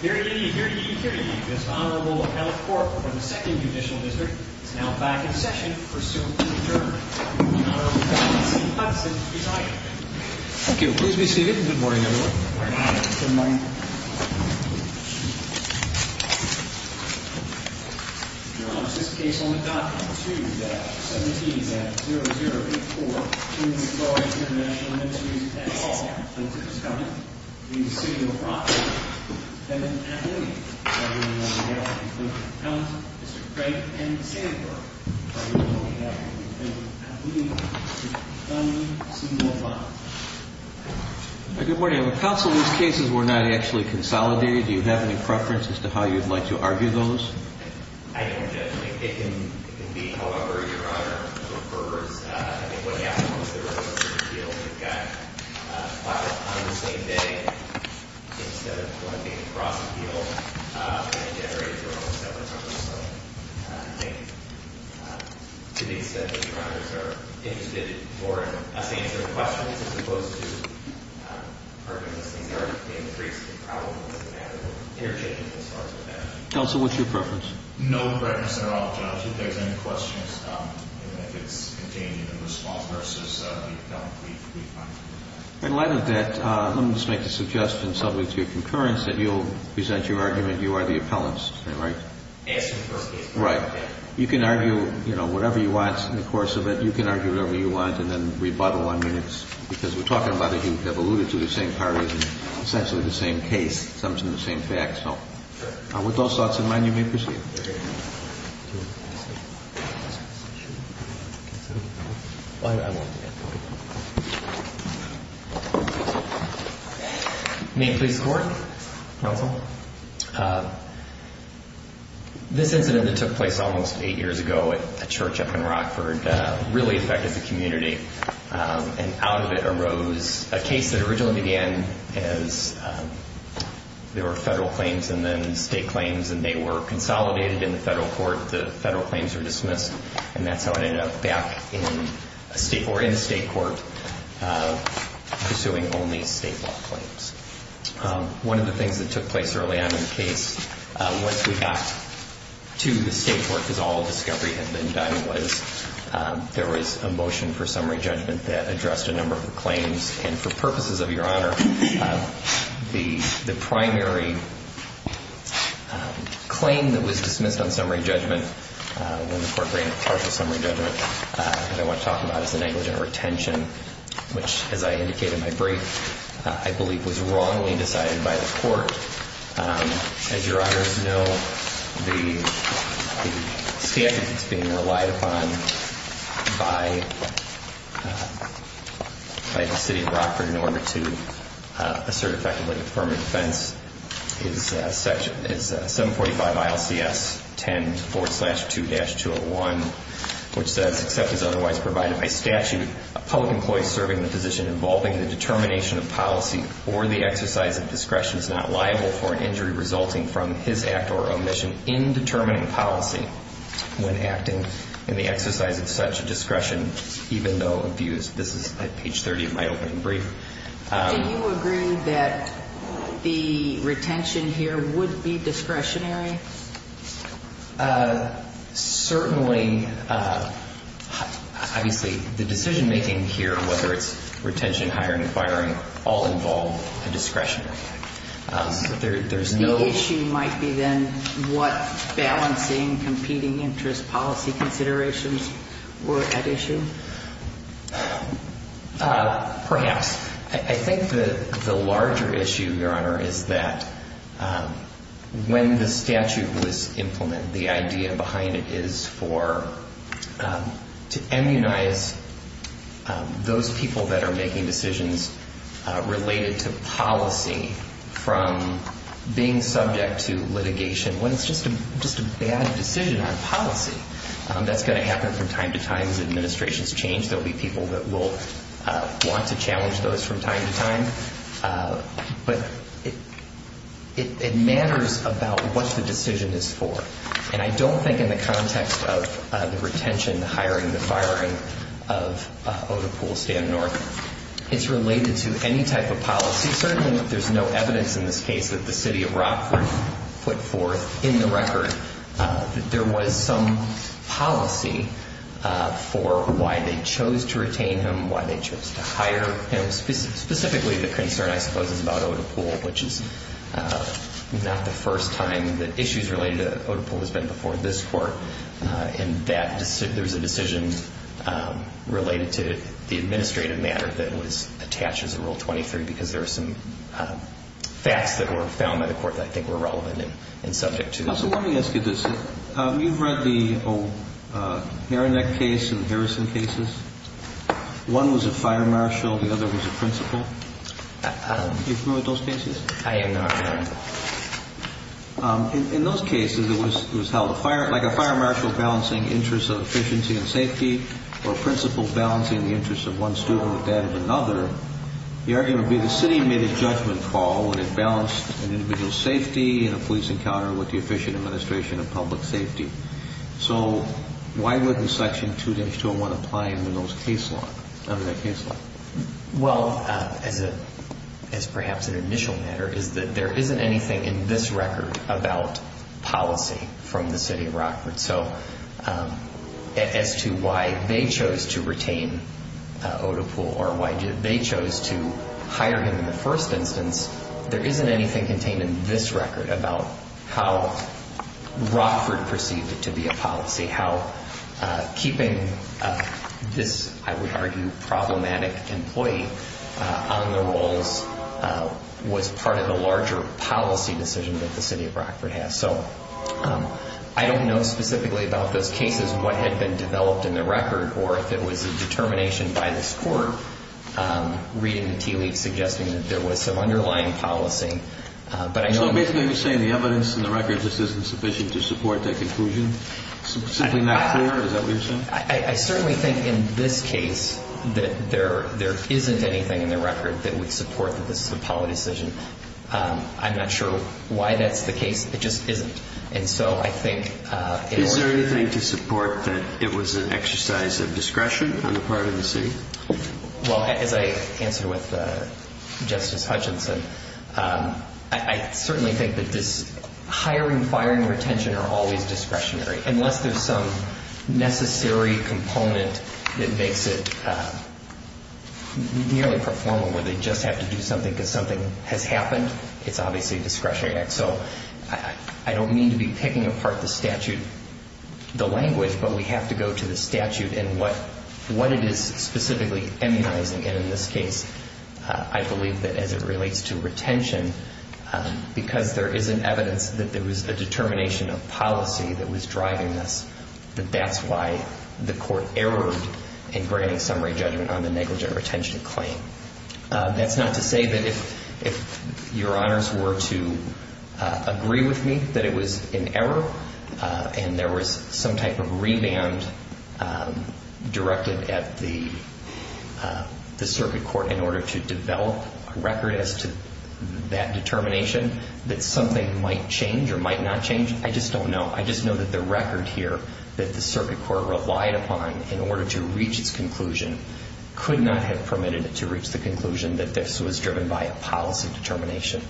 Here to give you, here to give you, here to give you, this Honourable Appellate Court from the 2nd Judicial District is now back in session for suit and adjournment. The Honourable Constable Steve Hudson, please rise. Thank you. Please be seated. Good morning, everyone. Good morning. Your Honour, this case will be adopted. 2-17-0084. To the authority of the International Ministries, and all plaintiffs' government, the City of Rockford, and the Appellate Court, the Honourable Counsel, Mr. Craig, and Mr. Sandberg, the Honourable Appellate Court, and the Appellate Court, Mr. Dunlap, Mr. Dunlap. Good morning. Counsel, these cases were not actually consolidated. Do you have any preference as to how you'd like to argue those? I don't, Judge. It can be however Your Honour prefers. I think what happened was there was a certain deal that got filed on the same day. Instead of going across the field, I generated for all of us that way. So I think to the extent that Your Honour is interested for us to answer the questions, as opposed to arguing these things, there are increasing problems in the matter. We'll interject as far as we can. Counsel, what's your preference? No preference at all, Judge. If there's any questions, and if it's contained in the response versus the appellate brief, we'd be fine with that. In light of that, let me just make the suggestion, subject to concurrence, that you'll present your argument. You are the appellant, right? Yes, in the first case. Right. You can argue whatever you want in the course of it. You can argue whatever you want and then rebuttal. I mean, it's because we're talking about it. You have alluded to the same parties and essentially the same case, some of the same facts. So with those thoughts in mind, you may proceed. May it please the Court, Counsel? This incident that took place almost eight years ago at a church up in Rockford really affected the community. And out of it arose a case that originally began as there were federal claims and then state claims, and they were consolidated in the federal court. The federal claims were dismissed, and that's how it ended up back in state court, pursuing only state law claims. One of the things that took place early on in the case once we got to the state court, because all of the discovery had been done, was there was a motion for summary judgment that addressed a number of the claims. And for purposes of Your Honor, the primary claim that was dismissed on summary judgment when the Court granted partial summary judgment that I want to talk about is the negligent retention, which, as I indicated in my brief, I believe was wrongly decided by the Court. As Your Honors know, the statute that's being relied upon by the city of Rockford in order to assert effectively affirmative defense is 745 ILCS 10-2-201, which says, except as otherwise provided by statute, a public employee serving the position involving the determination of policy or the exercise of discretion is not liable for an injury resulting from his act or omission in determining policy when acting in the exercise of such discretion, even though abused. This is at page 30 of my opening brief. Do you agree that the retention here would be discretionary? Certainly. Obviously, the decision-making here, whether it's retention, hiring, firing, all involve a discretionary act. There's no issue. The issue might be then what balancing competing interest policy considerations were at issue? Perhaps. I think the larger issue, Your Honor, is that when the statute was implemented, the idea behind it is to immunize those people that are making decisions related to policy from being subject to litigation when it's just a bad decision on policy. That's going to happen from time to time as administrations change. There will be people that will want to challenge those from time to time. But it matters about what the decision is for. And I don't think in the context of the retention, the hiring, the firing of Oda Poole, Stan North, it's related to any type of policy. Certainly, there's no evidence in this case that the city of Rockford put forth in the record that there was some policy for why they chose to retain him, why they chose to hire him. Specifically, the concern, I suppose, is about Oda Poole, which is not the first time that issues related to Oda Poole has been before this Court. And there's a decision related to the administrative matter that was attached as a Rule 23 because there were some facts that were found by the Court that I think were relevant and subject to this. So let me ask you this. You've read the old Haranek case and Harrison cases. One was a fire marshal. The other was a principal. Are you familiar with those cases? I am not. In those cases, it was held like a fire marshal balancing interests of efficiency and safety or a principal balancing the interests of one student with that of another. The argument would be the city made a judgment call when it balanced an individual's safety in a police encounter with the efficient administration of public safety. So why wouldn't Section 2-201 apply under that case law? Well, as perhaps an initial matter, is that there isn't anything in this record about policy from the city of Rockford. So as to why they chose to retain Oda Poole or why they chose to hire him in the first instance, there isn't anything contained in this record about how Rockford perceived it to be a policy, how keeping this, I would argue, problematic employee on the rolls was part of the larger policy decision that the city of Rockford has. So I don't know specifically about those cases what had been developed in the record or if it was a determination by this court reading the TLEAP suggesting that there was some underlying policy. So basically you're saying the evidence in the record just isn't sufficient to support that conclusion? Simply not clear, is that what you're saying? I certainly think in this case that there isn't anything in the record that would support that this is a policy decision. I'm not sure why that's the case. It just isn't. Is there anything to support that it was an exercise of discretion on the part of the city? Well, as I answered with Justice Hutchinson, I certainly think that this hiring, firing, retention are always discretionary unless there's some necessary component that makes it nearly performal where they just have to do something because something has happened, it's obviously a discretionary act. So I don't mean to be picking apart the statute, the language, but we have to go to the statute and what it is specifically immunizing. And in this case, I believe that as it relates to retention, because there is an evidence that there was a determination of policy that was driving this, that that's why the court erred in granting summary judgment on the negligent retention claim. That's not to say that if your honors were to agree with me that it was an error and there was some type of revamp directed at the circuit court in order to develop a record as to that determination, that something might change or might not change. I just don't know. I just know that the record here that the circuit court relied upon in order to reach its conclusion could not have permitted it to reach the conclusion that this was driven by a policy determination.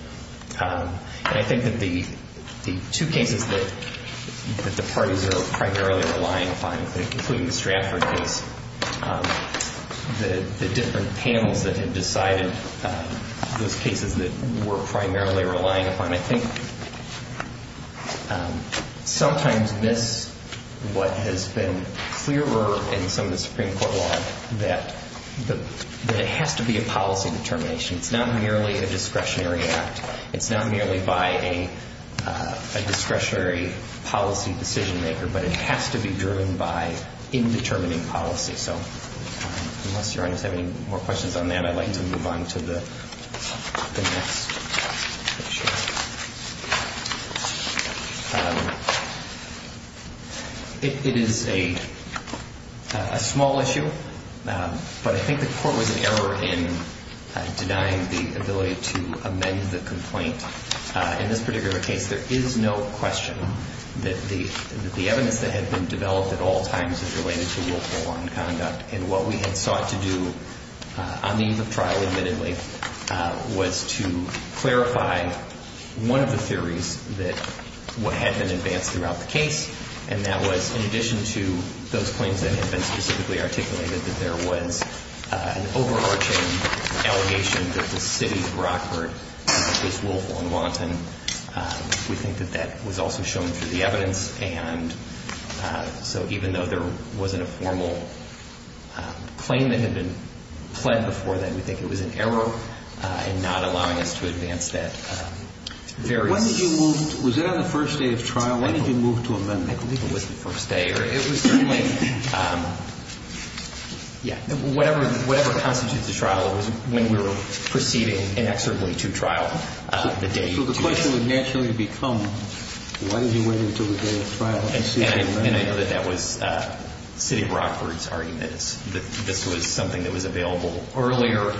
And I think that the two cases that the parties are primarily relying upon, including the Stratford case, the different panels that had decided those cases that were primarily relying upon, I think sometimes this, what has been clearer in some of the Supreme Court law, that it has to be a policy determination. It's not merely a discretionary act. It's not merely by a discretionary policy decision maker, but it has to be driven by indetermining policy. So unless your honors have any more questions on that, I'd like to move on to the next issue. It is a small issue, but I think the court was in error in denying the ability to amend the complaint. In this particular case, there is no question that the evidence that had been developed at all times is related to willful unconduct. And what we had sought to do on the eve of trial, admittedly, was to clarify one of the theories that had been advanced throughout the case, and that was in addition to those claims that had been specifically articulated, that there was an overarching allegation that the city of Rockford was willful and wanton. We think that that was also shown through the evidence. And so even though there wasn't a formal claim that had been pled before that, we think it was an error in not allowing us to advance that. When did you move? Was that on the first day of trial? When did you move to amend it? I believe it was the first day. It was certainly – yeah. Whatever constitutes a trial, it was when we were proceeding inexorably to trial. So the question would naturally become, why did you wait until the day of trial? And I know that that was city of Rockford's argument, that this was something that was available earlier.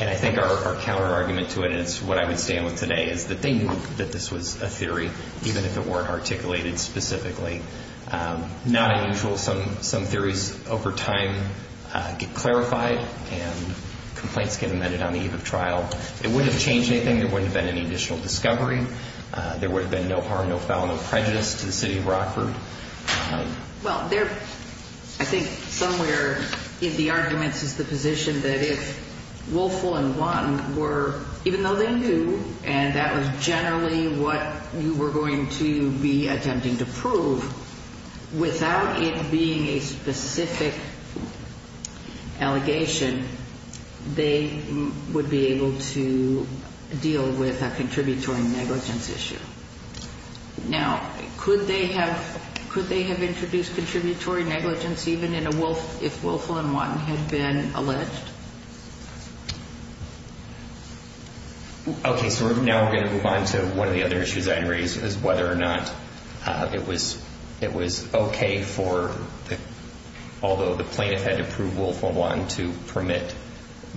And I think our counterargument to it, and it's what I would stand with today, is that they knew that this was a theory, even if it weren't articulated specifically. Not unusual, some theories over time get clarified and complaints get amended on the eve of trial. It wouldn't have changed anything. There wouldn't have been any additional discovery. There would have been no harm, no foul, no prejudice to the city of Rockford. Well, there – I think somewhere in the arguments is the position that if Woelfel and Wanton were – even though they knew and that was generally what you were going to be attempting to prove, without it being a specific allegation, they would be able to deal with a contributory negligence issue. Now, could they have introduced contributory negligence even in a – if Woelfel and Wanton had been alleged? Okay, so now we're going to move on to one of the other issues I had raised, which is whether or not it was okay for – although the plaintiff had to prove Woelfel and Wanton to permit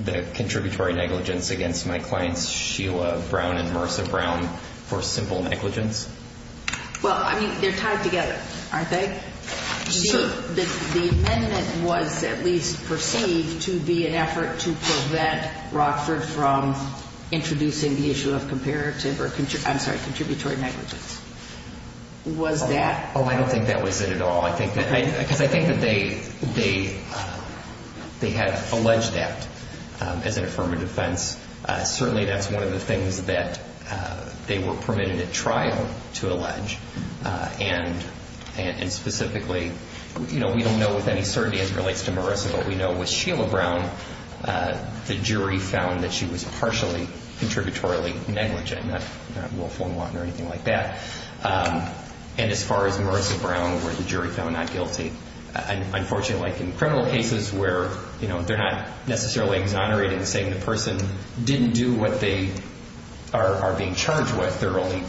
the contributory negligence against my clients Sheila Brown and Marcia Brown for simple negligence? Well, I mean, they're tied together, aren't they? Sure. The amendment was at least perceived to be an effort to prevent Rockford from introducing the issue of comparative or – I'm sorry, contributory negligence. Was that – Oh, I don't think that was it at all. I think that – because I think that they have alleged that as an affirmative offense. Certainly, that's one of the things that they were permitted at trial to allege. And specifically, you know, we don't know with any certainty as it relates to Marissa, but we know with Sheila Brown the jury found that she was partially contributory negligent, not Woelfel and Wanton or anything like that. And as far as Marissa Brown where the jury found not guilty, unfortunately like in criminal cases where, you know, they're not necessarily exonerating saying the person didn't do what they are being charged with. They're only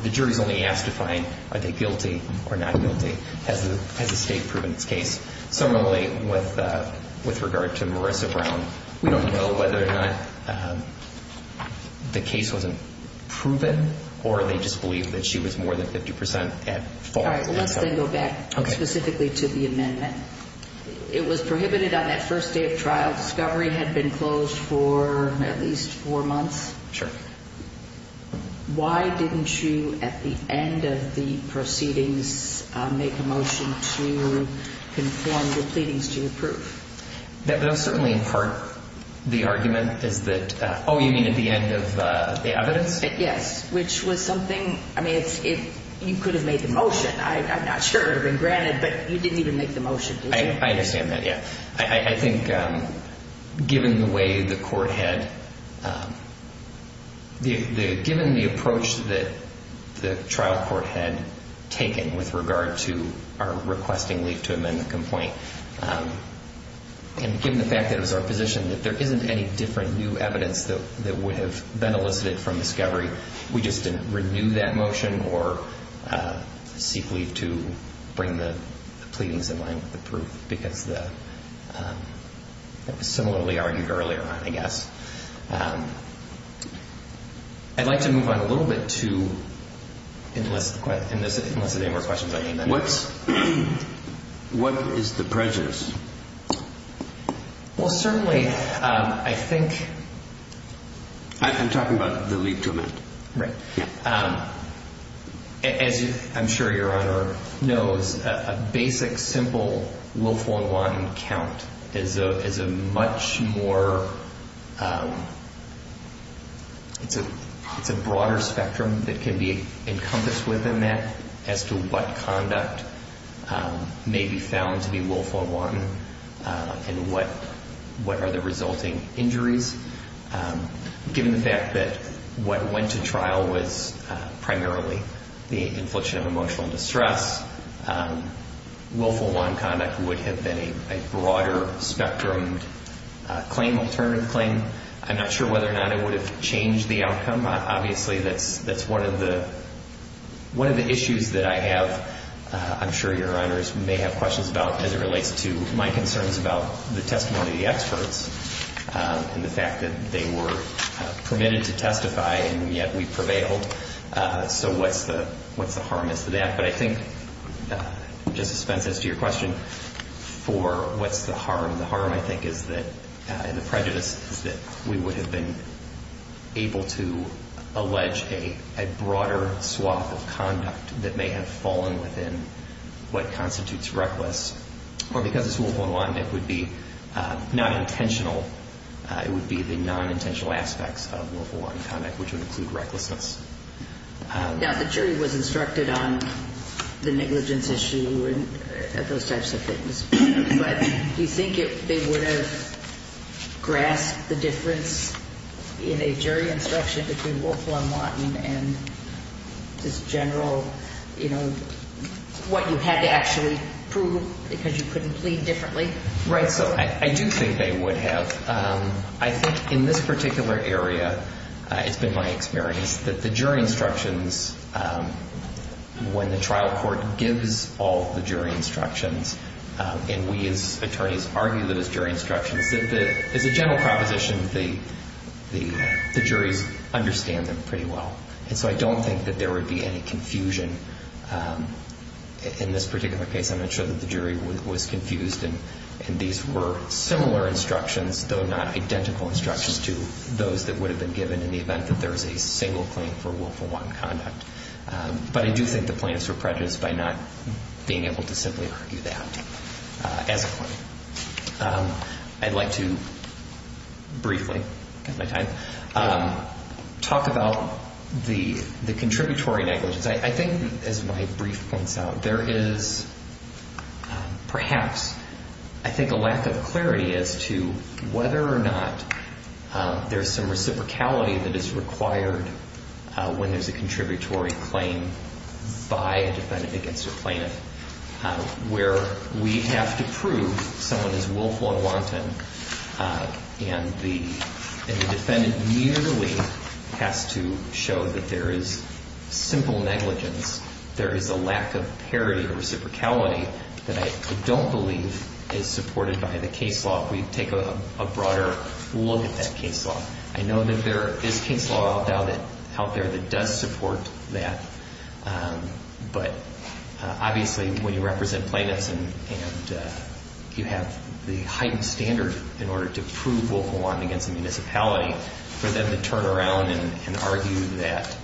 – the jury's only asked to find are they guilty or not guilty. Has the state proven its case? Similarly, with regard to Marissa Brown, we don't know whether or not the case wasn't proven or they just believe that she was more than 50% at fault. All right. Let's then go back specifically to the amendment. It was prohibited on that first day of trial. Discovery had been closed for at least four months. Sure. Why didn't you at the end of the proceedings make a motion to conform the pleadings to your proof? That was certainly in part the argument is that, oh, you mean at the end of the evidence? Yes, which was something – I mean, you could have made the motion. I'm not sure it would have been granted, but you didn't even make the motion, did you? I understand that, yeah. I think given the way the court had – given the approach that the trial court had taken with regard to our requesting leave to amend the complaint and given the fact that it was our position that there isn't any different new evidence that would have been elicited from Discovery, we just didn't renew that motion or seek leave to bring the pleadings in line with the proof, because that was similarly argued earlier on, I guess. I'd like to move on a little bit to – unless there are any more questions I need to address. What is the prejudice? Well, certainly, I think – I'm talking about the leave to amend. Right. As I'm sure Your Honor knows, a basic, simple Wolf, Wong, Watton count is a much more – it's a broader spectrum that can be encompassed within that as to what conduct may be found to be Wolf, Wong, Watton and what are the resulting injuries. Given the fact that what went to trial was primarily the infliction of emotional distress, Wolf, Wong, Watton conduct would have been a broader spectrum claim, alternative claim. I'm not sure whether or not it would have changed the outcome. Obviously, that's one of the issues that I have, I'm sure Your Honors may have questions about as it relates to my concerns about the testimony of the experts and the fact that they were permitted to testify and yet we prevailed. So what's the harm as to that? But I think, Justice Spence, as to your question for what's the harm, the harm I think is that – and the prejudice is that we would have been able to allege a broader swath of conduct that may have fallen within what constitutes reckless. Or because it's Wolf, Wong, Watton, it would be non-intentional. It would be the non-intentional aspects of Wolf, Wong, Watton conduct which would include recklessness. Now, the jury was instructed on the negligence issue and those types of things. But do you think they would have grasped the difference in a jury instruction between Wolf, Wong, Watton and just general, you know, what you had to actually prove because you couldn't plead differently? Right, so I do think they would have. I think in this particular area, it's been my experience that the jury instructions, when the trial court gives all the jury instructions and we as attorneys argue those jury instructions, as a general proposition, the juries understand them pretty well. And so I don't think that there would be any confusion in this particular case. I'm not sure that the jury was confused. And these were similar instructions, though not identical instructions, to those that would have been given in the event that there was a single claim for Wolf, Wong, Watton conduct. But I do think the plaintiffs were prejudiced by not being able to simply argue that as a claim. I'd like to briefly, because of my time, talk about the contributory negligence. I think, as my brief points out, there is perhaps, I think, a lack of clarity as to whether or not there's some reciprocality that is required when there's a contributory claim by a defendant against a plaintiff, where we have to prove someone is Wolf, Wong, Watton, and the defendant merely has to show that there is simple negligence. There is a lack of parity or reciprocality that I don't believe is supported by the case law. If we take a broader look at that case law, I know that there is case law out there that does support that. But obviously, when you represent plaintiffs and you have the heightened standard in order to prove Wolf, Wong, Watton against a municipality, for them to turn around and argue that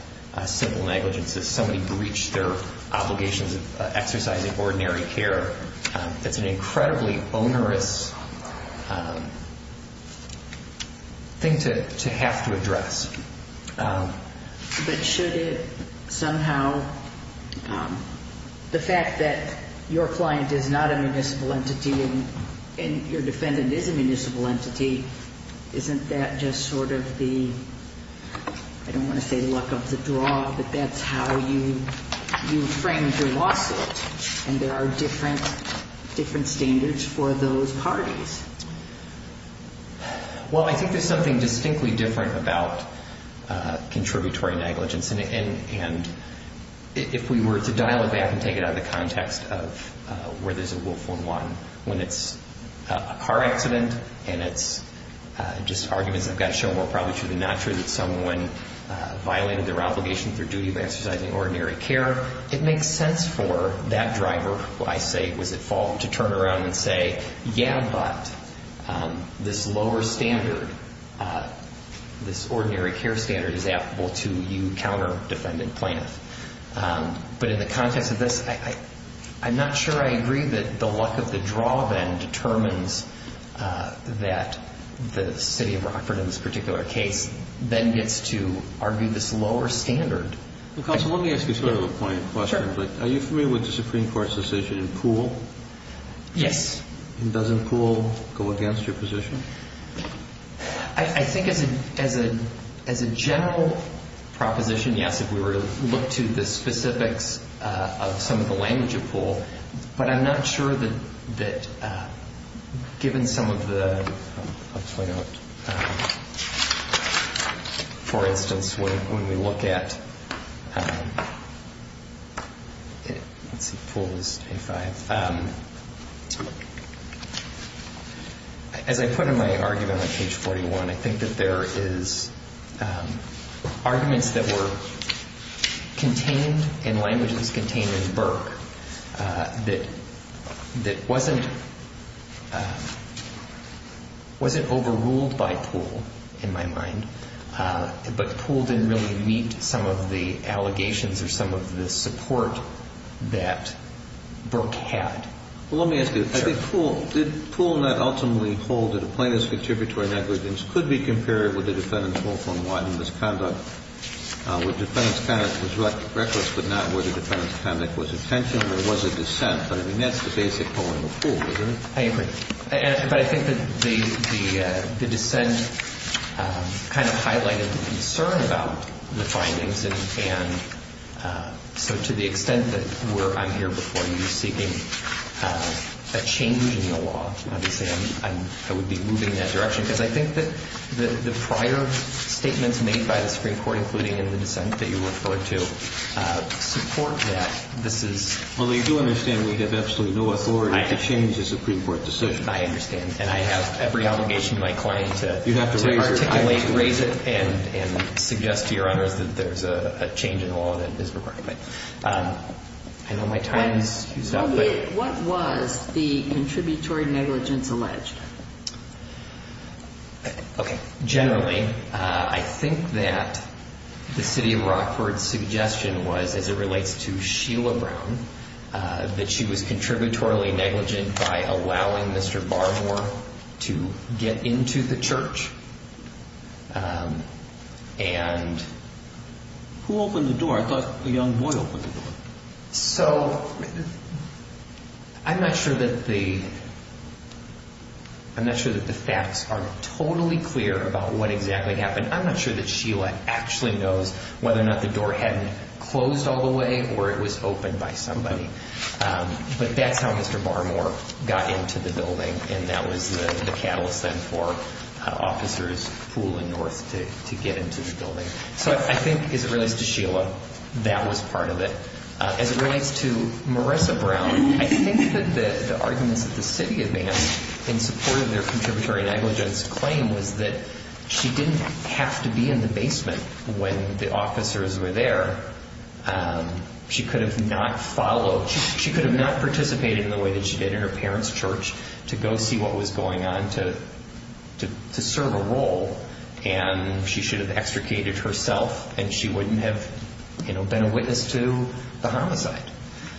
simple negligence is somebody breached their obligations of exercising ordinary care, that's an incredibly onerous thing to have to address. But should it somehow, the fact that your client is not a municipal entity and your defendant is a municipal entity, isn't that just sort of the, I don't want to say luck of the draw, but that's how you frame your lawsuit? And there are different standards for those parties. Well, I think there's something distinctly different about contributory negligence. And if we were to dial it back and take it out of the context of where there's a Wolf, Wong, Watton, when it's a car accident and it's just arguments that have got to show more probably true than not true that someone violated their obligation, their duty of exercising ordinary care, it makes sense for that driver, who I say was at fault, to turn around and say, yeah, but this lower standard, this ordinary care standard is applicable to you counter defendant plaintiff. But in the context of this, I'm not sure I agree that the luck of the draw then determines that the city of Rockford, in this particular case, then gets to argue this lower standard. Well, counsel, let me ask you sort of a point of question. Are you familiar with the Supreme Court's decision in Poole? Yes. And does Poole go against your position? I think as a general proposition, yes, if we were to look to the specifics of some of the language of Poole. But I'm not sure that given some of the, I'll point out, for instance, when we look at, let's see, Poole is 85. As I put in my argument on page 41, I think that there is arguments that were contained in languages contained in Burke that wasn't overruled by Poole, in my mind, but Poole didn't really meet some of the allegations or some of the support that Burke had. Well, let me ask you, I think Poole, did Poole not ultimately hold that a plaintiff's contributory negligence could be compared with a defendant's whole form of misconduct where the defendant's conduct was reckless but not where the defendant's conduct was intentional or was a dissent? But I mean, that's the basic polling of Poole, isn't it? I agree. But I think that the dissent kind of highlighted the concern about the findings, and so to the extent that I'm here before you seeking a change in the law, I would be moving in that direction because I think that the prior statements made by the Supreme Court, including in the dissent that you referred to, support that. Well, you do understand we have absolutely no authority to change the Supreme Court decision. I understand, and I have every obligation to my client to articulate, raise it, and suggest to your honors that there's a change in the law that is required. I know my time is used up. What was the contributory negligence alleged? Okay. Generally, I think that the city of Rockford's suggestion was, as it relates to Sheila Brown, that she was contributory negligent by allowing Mr. Barmore to get into the church and... Who opened the door? I thought the young boy opened the door. So I'm not sure that the facts are totally clear about what exactly happened. I'm not sure that Sheila actually knows whether or not the door hadn't closed all the way or it was opened by somebody. But that's how Mr. Barmore got into the building, and that was the catalyst then for Officers Poole and North to get into the building. So I think, as it relates to Sheila, that was part of it. As it relates to Marissa Brown, I think that the arguments that the city advanced in support of their contributory negligence claim was that she didn't have to be in the basement when the officers were there. She could have not followed. She could have not participated in the way that she did in her parents' church to go see what was going on to serve a role, and she should have extricated herself and she wouldn't have been a witness to the homicide.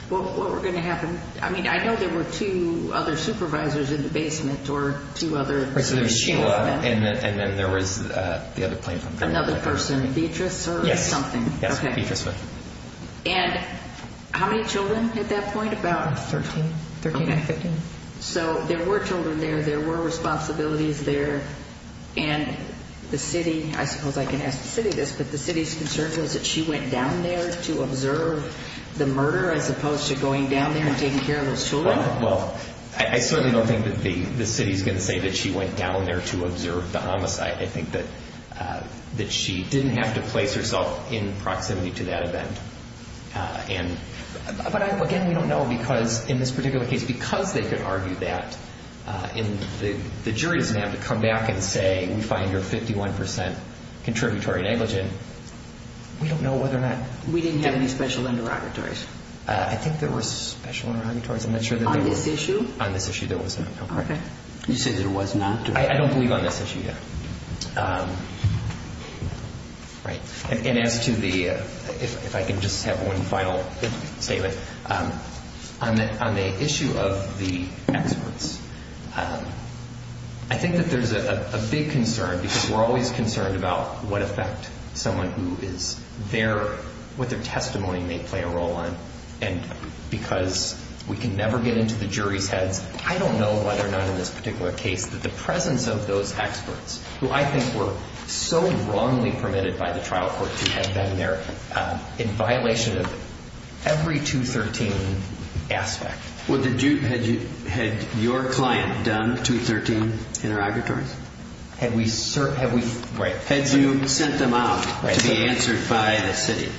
What were going to happen? I mean, I know there were two other supervisors in the basement or two other... Right, so there was Sheila and then there was the other plaintiff. Another person, Beatrice or something. Yes, Beatrice. And how many children at that point? About 13, 13 or 15. So there were children there, there were responsibilities there, and the city, I suppose I can ask the city this, but the city's concern was that she went down there to observe the murder as opposed to going down there and taking care of those children? Well, I certainly don't think that the city is going to say that she went down there to observe the homicide. I think that she didn't have to place herself in proximity to that event. But, again, we don't know because, in this particular case, because they could argue that and the jury doesn't have to come back and say, we find her 51% contributory negligent. We don't know whether or not. We didn't have any special interrogatories. I think there were special interrogatories. I'm not sure that there was. On this issue? On this issue, there was not. Okay. You say there was not? I don't believe on this issue yet. And as to the, if I can just have one final statement, on the issue of the experts, I think that there's a big concern because we're always concerned about what effect someone who is there, what their testimony may play a role on. And because we can never get into the jury's heads, I don't know whether or not, in this particular case, that the presence of those experts, who I think were so wrongly permitted by the trial court to have been there, in violation of every 213 aspect. Well, had your client done 213 interrogatories? Had we, right. Had you sent them out to be answered by the city?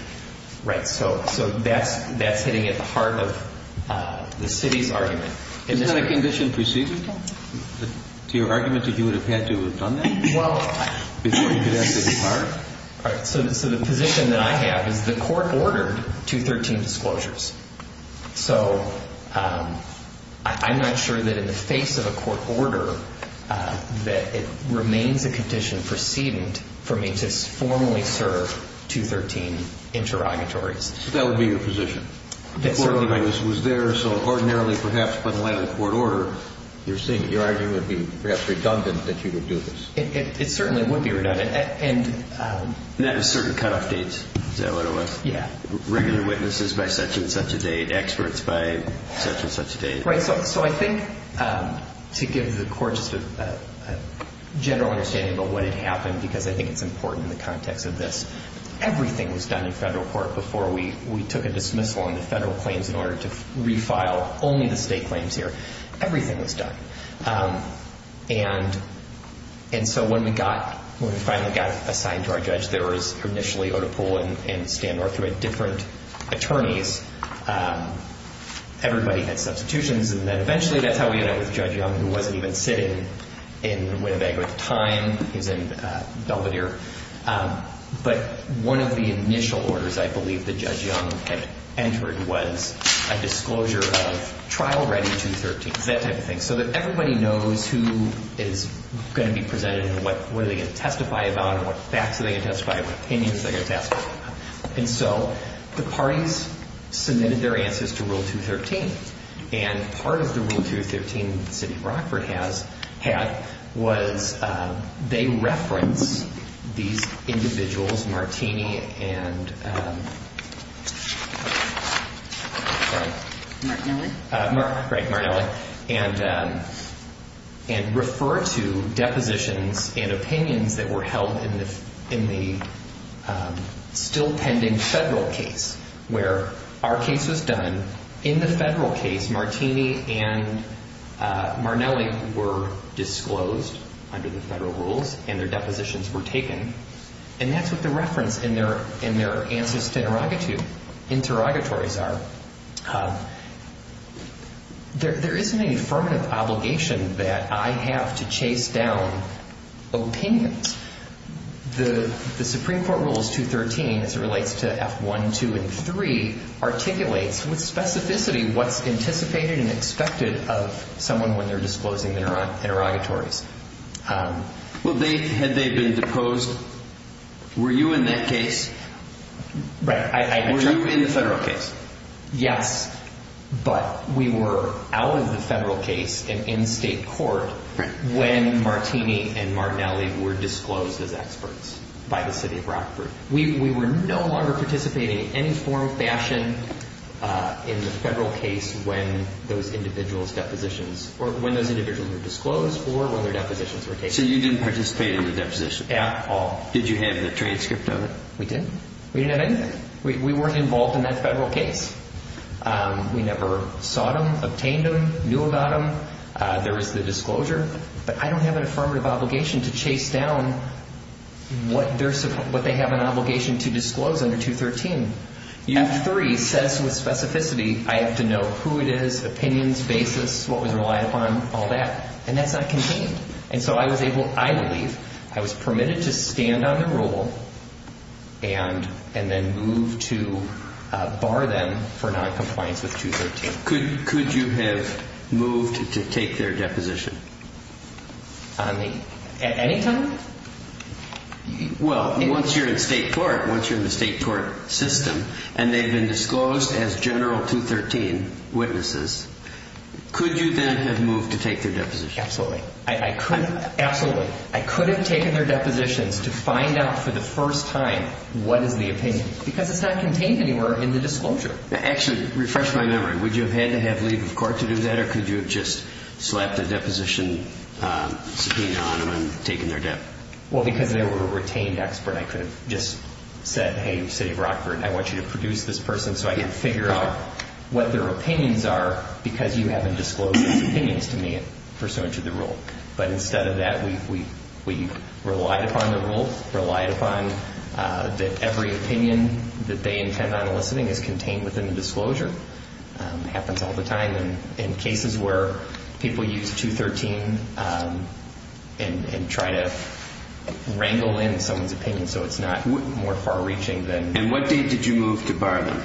Right. So that's hitting at the heart of the city's argument. Is that a condition preceded to your argument that you would have had to have done that? Well, I. Before you could ask for the card? All right. So the position that I have is the court ordered 213 disclosures. So I'm not sure that in the face of a court order, that it remains a condition preceded for me to formally serve 213 interrogatories. So that would be your position. The court order was there, so ordinarily, perhaps, by the way of the court order, you're seeing it. Your argument would be perhaps redundant that you would do this. It certainly would be redundant. And that was certain cutoff dates. Is that what it was? Yeah. Regular witnesses by such and such a date. Experts by such and such a date. Right. So I think, to give the court just a general understanding about what had happened, because I think it's important in the context of this, everything was done in federal court before we took a dismissal on the federal claims in order to refile only the state claims here. Everything was done. And so when we finally got assigned to our judge, there was initially Oda Poole and Stan Northwood, different attorneys. Everybody had substitutions, and then eventually that's how we ended up with Judge Young, who wasn't even sitting in Winnebago at the time. He was in Belvedere. But one of the initial orders, I believe, that Judge Young had entered was a disclosure of trial-ready 213, that type of thing, so that everybody knows who is going to be presented and what are they going to testify about and what facts are they going to testify about, what opinions are they going to testify about. And so the parties submitted their answers to Rule 213. And part of the Rule 213 that the city of Brockford had was they referenced these individuals, Martini and... Martinelli. Right, Martinelli, and referred to depositions and opinions that were held in the still-pending federal case, where our case was done. In the federal case, Martini and Martinelli were disclosed under the federal rules and their depositions were taken. And that's what the reference in their answers to interrogatories are. There isn't an affirmative obligation that I have to chase down opinions. The Supreme Court Rules 213, as it relates to F1, 2, and 3, articulates with specificity what's anticipated and expected of someone when they're disclosing interrogatories. Well, had they been deposed, were you in that case? Right. Were you in the federal case? Yes, but we were out of the federal case and in state court when Martini and Martinelli were disclosed as experts by the city of Brockford. We were no longer participating in any form or fashion in the federal case when those individuals were disclosed or when their depositions were taken. So you didn't participate in the deposition? At all. Did you have the transcript of it? We didn't. We didn't have anything. We weren't involved in that federal case. We never sought them, obtained them, knew about them. There is the disclosure, but I don't have an affirmative obligation to chase down what they have an obligation to disclose under 213. F3 says with specificity I have to know who it is, opinions, basis, what was relied upon, all that, and that's not contained. And so I was able, I believe, I was permitted to stand on the rule and then move to bar them for noncompliance with 213. Could you have moved to take their deposition? At any time? Well, once you're in state court, once you're in the state court system and they've been disclosed as General 213 witnesses, could you then have moved to take their deposition? Absolutely. I could have taken their depositions to find out for the first time what is the opinion because it's not contained anywhere in the disclosure. Actually, refresh my memory, would you have had to have leave of court to do that or could you have just slapped a deposition subpoena on them and taken their debt? Well, because they were a retained expert, I could have just said, hey, City of Rockford, I want you to produce this person so I can figure out what their opinions are because you haven't disclosed their opinions to me pursuant to the rule. But instead of that, we relied upon the rule, relied upon that every opinion that they intend on eliciting is contained within the disclosure. It happens all the time in cases where people use 213 and try to wrangle in someone's opinion so it's not more far-reaching than... And what date did you move to bar them?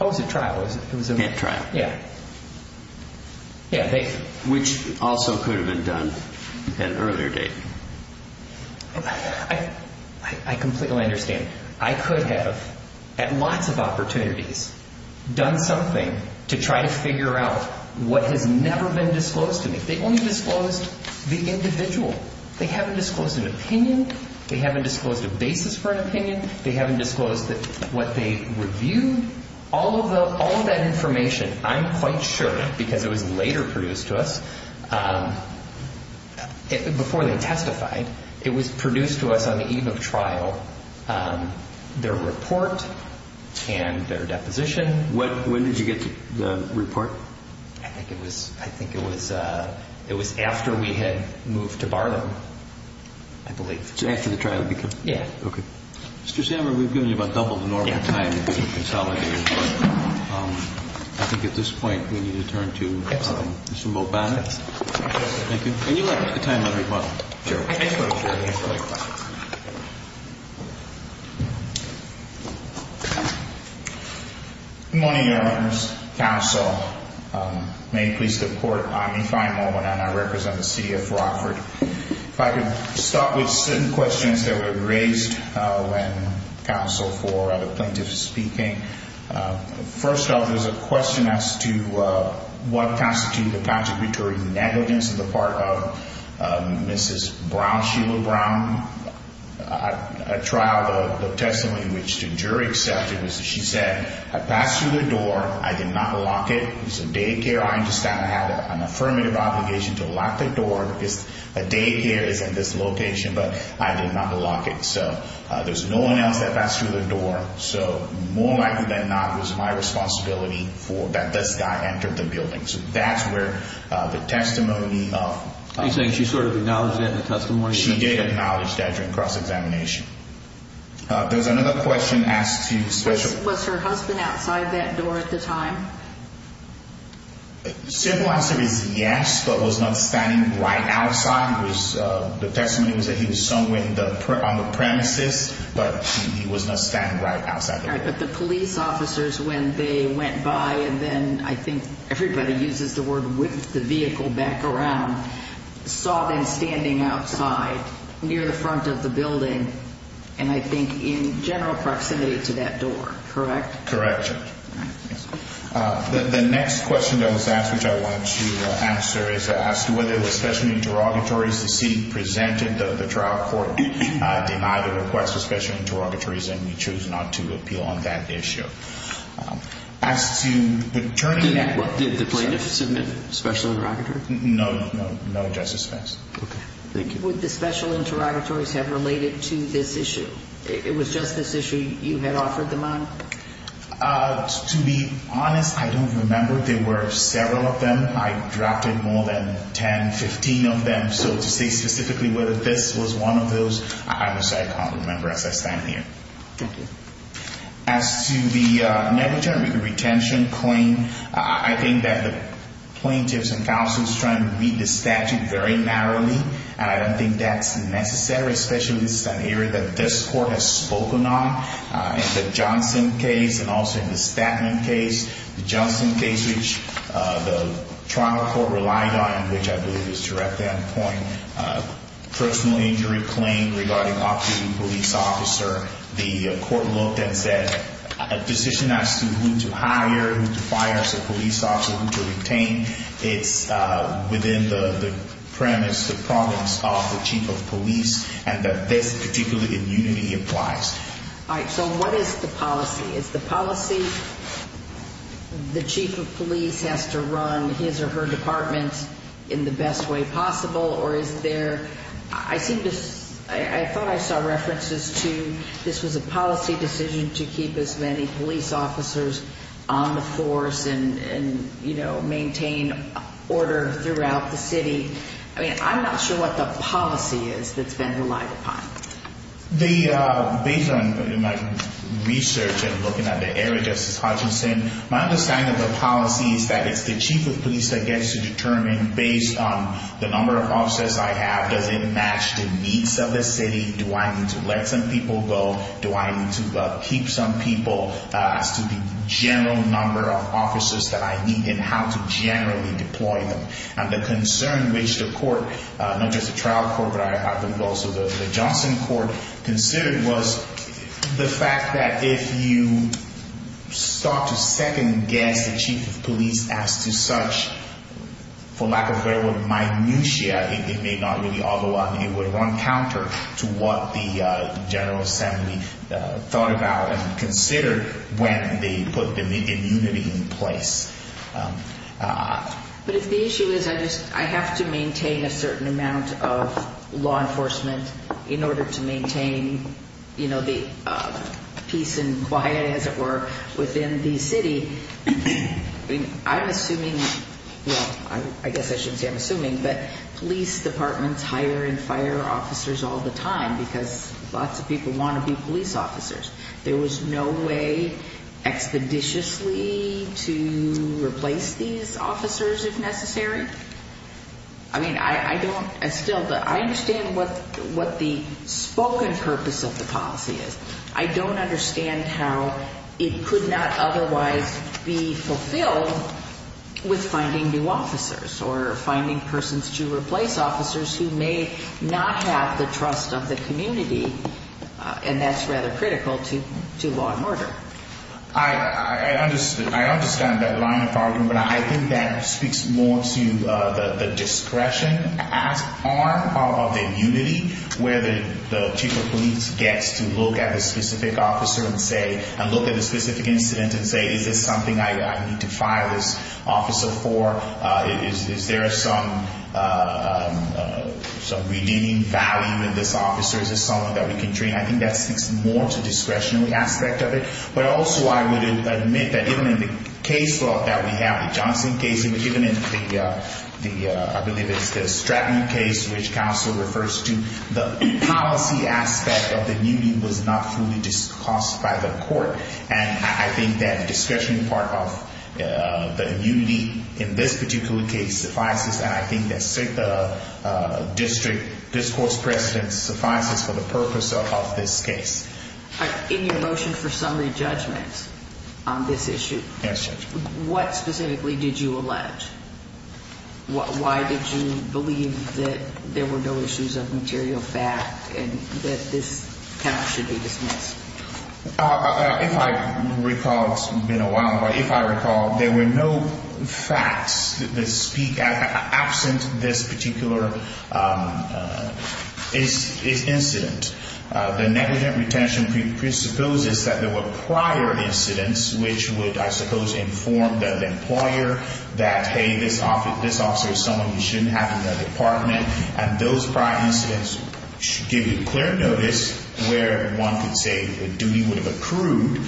Oh, it was at trial. At trial. Yeah. Which also could have been done at an earlier date. I completely understand. I could have, at lots of opportunities, done something to try to figure out what has never been disclosed to me. They only disclosed the individual. They haven't disclosed an opinion. They haven't disclosed a basis for an opinion. They haven't disclosed what they reviewed. All of that information, I'm quite sure, because it was later produced to us, before they testified, it was produced to us on the eve of trial, their report and their deposition. When did you get the report? I think it was after we had moved to bar them, I believe. After the trial had begun? Yeah. Okay. Mr. Sandberg, we've given you about double the normal time to consolidate. I think at this point we need to turn to Mr. Moe Bannon. Thank you. And you have the time letter as well. Sure. Good morning, Your Honors. Counsel. May it please the Court, I'm Yvonne Moe Bannon. I represent the city of Rockford. If I could start with certain questions that were raised when counsel for other plaintiffs was speaking. First off, there's a question as to what constitutes the contributory negligence on the part of Mrs. Brown, Sheila Brown. At trial, the testimony which the jury accepted was that she said, I passed through the door, I did not lock it. It was a daycare, I understand. I had an affirmative obligation to lock the door because a daycare is in this location, but I did not lock it. So there's no one else that passed through the door. So more likely than not, it was my responsibility for that this guy entered the building. So that's where the testimony of- Are you saying she sort of acknowledged that in the testimony? She did acknowledge that during cross-examination. There's another question as to- Was her husband outside that door at the time? Simple answer is yes, but was not standing right outside. The testimony was that he was somewhere on the premises, but he was not standing right outside the building. But the police officers, when they went by, and then I think everybody uses the word whipped the vehicle back around, saw them standing outside near the front of the building, and I think in general proximity to that door, correct? Correct. The next question that was asked, which I want to answer, is as to whether there were special interrogatories. The city presented the trial court denied the request for special interrogatories, and we chose not to appeal on that issue. As to- Did the plaintiff submit a special interrogatory? No, no justice has. Okay, thank you. Would the special interrogatories have related to this issue? It was just this issue you had offered them on? To be honest, I don't remember. There were several of them. I drafted more than 10, 15 of them. So to say specifically whether this was one of those, I would say I can't remember as I stand here. Thank you. As to the negligent retention claim, I think that the plaintiffs and counsels are trying to read the statute very narrowly, and I don't think that's necessary, especially in an area that this court has spoken on in the Johnson case and also in the Statman case. The Johnson case, which the trial court relied on, which I believe is directly on the point, personal injury claim regarding an off-duty police officer, the court looked and said a position as to who to hire, who to fire as a police officer, who to retain, it's within the premise, the province of the chief of police, and that this particular immunity applies. All right. So what is the policy? Is the policy the chief of police has to run his or her department in the best way possible, or is there, I seem to, I thought I saw references to this was a policy decision to keep as many police officers on the force and, you know, maintain order throughout the city. I mean, I'm not sure what the policy is that's been relied upon. Based on my research and looking at the area, Justice Hutchinson, my understanding of the policy is that it's the chief of police that gets to determine, based on the number of officers I have, does it match the needs of the city, do I need to let some people go, do I need to keep some people, as to the general number of officers that I need and how to generally deploy them. And the concern which the court, not just the trial court, but I believe also the Johnson court, considered was the fact that if you start to second-guess the chief of police as to such, for lack of better word, minutia, it may not really all go on. It would run counter to what the General Assembly thought about But if the issue is I have to maintain a certain amount of law enforcement in order to maintain, you know, the peace and quiet, as it were, within the city, I'm assuming, well, I guess I shouldn't say I'm assuming, but police departments hire and fire officers all the time because lots of people want to be police officers. There was no way expeditiously to replace these officers if necessary. I mean, I don't, I still, I understand what the spoken purpose of the policy is. I don't understand how it could not otherwise be fulfilled with finding new officers or finding persons to replace officers who may not have the trust of the community, and that's rather critical to law and order. I understand that line of argument, but I think that speaks more to the discretion arm of the immunity where the chief of police gets to look at a specific officer and say, and look at a specific incident and say, is this something I need to fire this officer for? Is there some redeeming value in this officer? Is this someone that we can train? I think that speaks more to discretionary aspect of it, but also I would admit that even in the case law that we have, the Johnson case, even in the, I believe it's the Stratton case, which counsel refers to, the policy aspect of the immunity was not fully discussed by the court, and I think that discretionary part of the immunity in this particular case suffices, and I think that the district discourse precedence suffices for the purpose of this case. In your motion for summary judgment on this issue, what specifically did you allege? Why did you believe that there were no issues of material fact and that this count should be dismissed? If I recall, it's been a while, but if I recall, there were no facts that speak absent this particular incident. The negligent retention presupposes that there were prior incidents which would, I suppose, inform the employer that, hey, this officer is someone we shouldn't have in the department, and those prior incidents should give you clear notice where one could say the duty would have accrued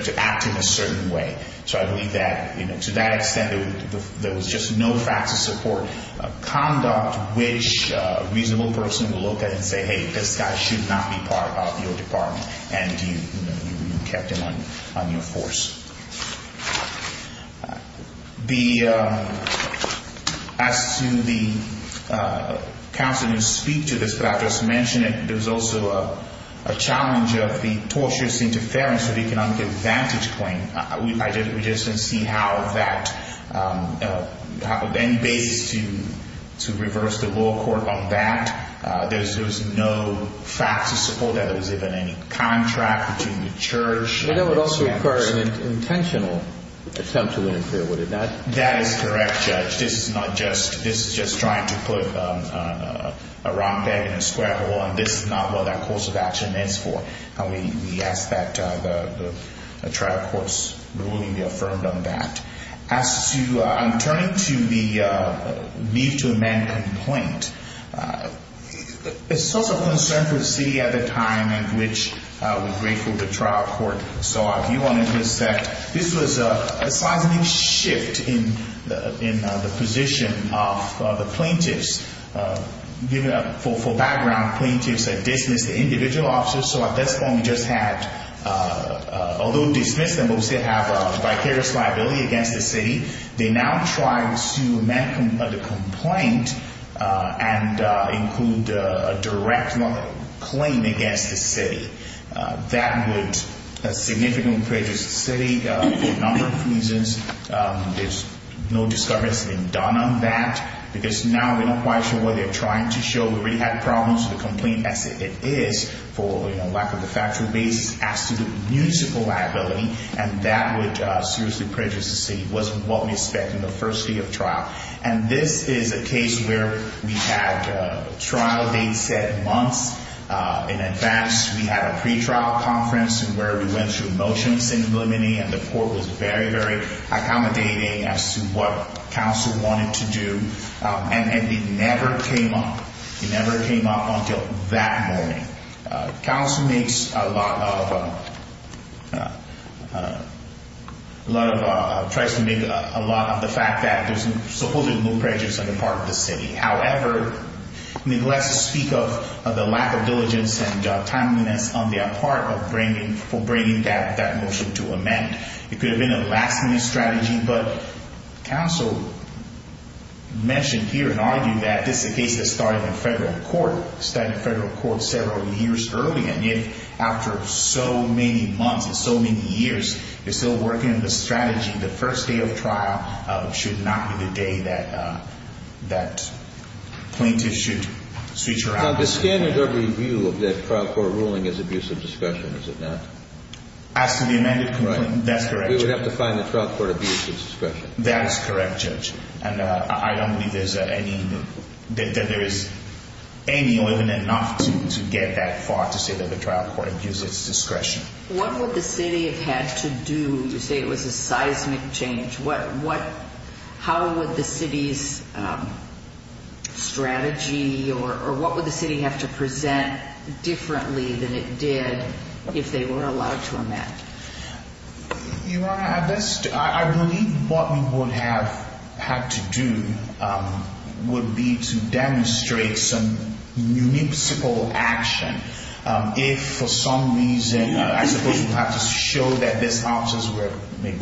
to act in a certain way. So I believe that to that extent, there was just no facts of support, conduct, which a reasonable person would look at and say, hey, this guy should not be part of your department, and you kept him on your force. As to the counsel who speak to this, but I just mentioned it, there was also a challenge of the tortious interference of economic advantage claim. We just didn't see how that – any basis to reverse the law court on that. There was no facts of support that there was even any contract between the church and the council. But that would also occur in an intentional attempt to interfere, would it not? That is correct, Judge. This is not just – this is just trying to put a round peg in a square hole, and this is not what that course of action is for. And we ask that the trial court's ruling be affirmed on that. As to – I'm turning to the leave to amend complaint. A source of concern for the city at the time, and which we're grateful the trial court saw, if you want to intersect, this was a seismic shift in the position of the plaintiffs. For background, plaintiffs had dismissed the individual officers, so at this point we just had – although dismissed them, but we still have a vicarious liability against the city. They now tried to amend the complaint and include a direct claim against the city. That would significantly prejudice the city for a number of reasons. There's no discovery that's been done on that because now we're not quite sure what they're trying to show. We've already had problems with the complaint as it is for lack of a factual basis. As to the musical liability, and that would seriously prejudice the city. It wasn't what we expect in the first day of trial. And this is a case where we had trial dates set months in advance. We had a pretrial conference where we went through motions in limine, and the court was very, very accommodating as to what counsel wanted to do. And it never came up. It never came up until that morning. Counsel makes a lot of – tries to make a lot of the fact that there's supposedly no prejudice on the part of the city. However, neglects to speak of the lack of diligence and timeliness on their part for bringing that motion to amend. It could have been a last minute strategy, but counsel mentioned here and argued that this is a case that started in federal court. It started in federal court several years early, and yet after so many months and so many years, they're still working on the strategy the first day of trial should not be the day that plaintiffs should switch around. Now, the standard overview of that trial court ruling is abuse of discretion, is it not? As to the amended complaint, that's correct. We would have to find the trial court abuse of discretion. That is correct, Judge, and I don't believe there's any – that there is any or even enough to get that far to say that the trial court abused its discretion. What would the city have had to do – you say it was a seismic change. What – how would the city's strategy or what would the city have to present differently than it did if they were allowed to amend? Your Honor, I believe what we would have had to do would be to demonstrate some municipal action. If for some reason – I suppose we would have to show that these officers were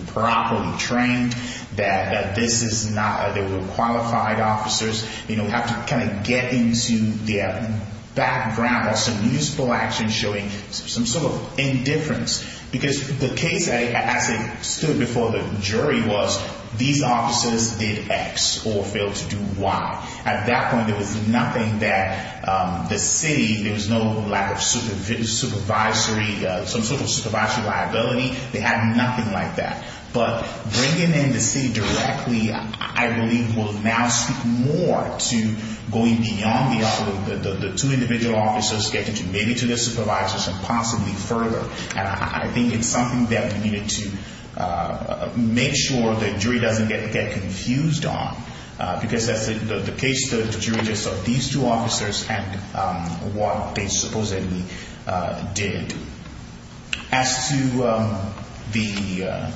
properly trained, that this is not – they were qualified officers. We would have to kind of get into their background or some municipal action showing some sort of indifference because the case, as it stood before the jury, was these officers did X or failed to do Y. At that point, there was nothing that the city – there was no lack of supervisory – some sort of supervisory liability. They had nothing like that. But bringing in the city directly, I believe, will now speak more to going beyond the two individual officers, getting to maybe to the supervisors and possibly further. And I think it's something that we needed to make sure the jury doesn't get confused on because that's the case the jury just saw. These two officers and what they supposedly did. As to the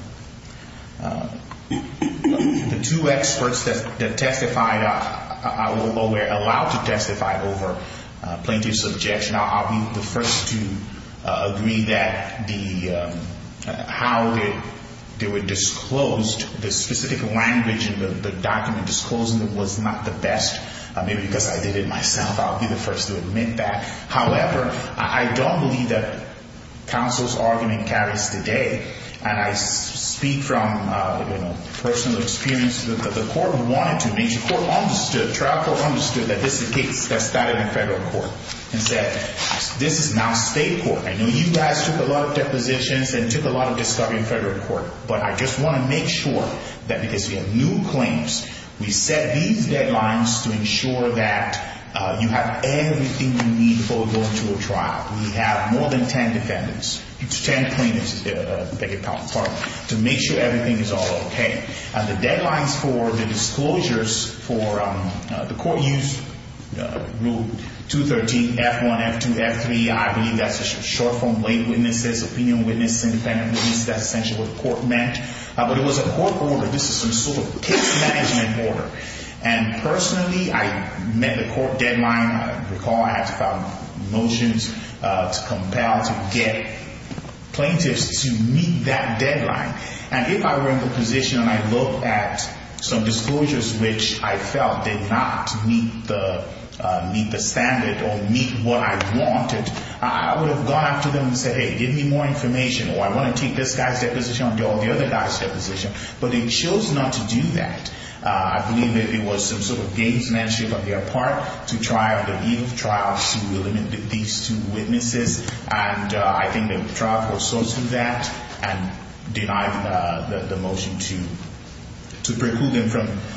two experts that testified – or were allowed to testify over plaintiff's objection, I'll be the first to agree that the – how they were disclosed, the specific language in the document disclosing it was not the best. Maybe because I did it myself, I'll be the first to admit that. However, I don't believe that counsel's argument carries today. And I speak from personal experience that the court wanted to – the trial court understood that this is a case that started in federal court and said this is now state court. I know you guys took a lot of depositions and took a lot of discovery in federal court. But I just want to make sure that because we have new claims, we set these deadlines to ensure that you have everything you need before going to a trial. We have more than 10 defendants – 10 plaintiffs, to make sure everything is all okay. The deadlines for the disclosures for the court used Rule 213, F1, F2, F3. I believe that's short-form weight witnesses, opinion witnesses, independent witnesses. That's essentially what the court meant. But it was a court order. This is some sort of case management order. And personally, I met the court deadline. I recall I had to file motions to compel, to get plaintiffs to meet that deadline. And if I were in the position and I looked at some disclosures which I felt did not meet the standard or meet what I wanted, I would have gone after them and said, hey, give me more information. Or I want to take this guy's deposition or the other guy's deposition. But they chose not to do that. I believe that it was some sort of case management on their part to try to give trials to these two witnesses. And I think the trial court saw through that and denied the motion to preclude them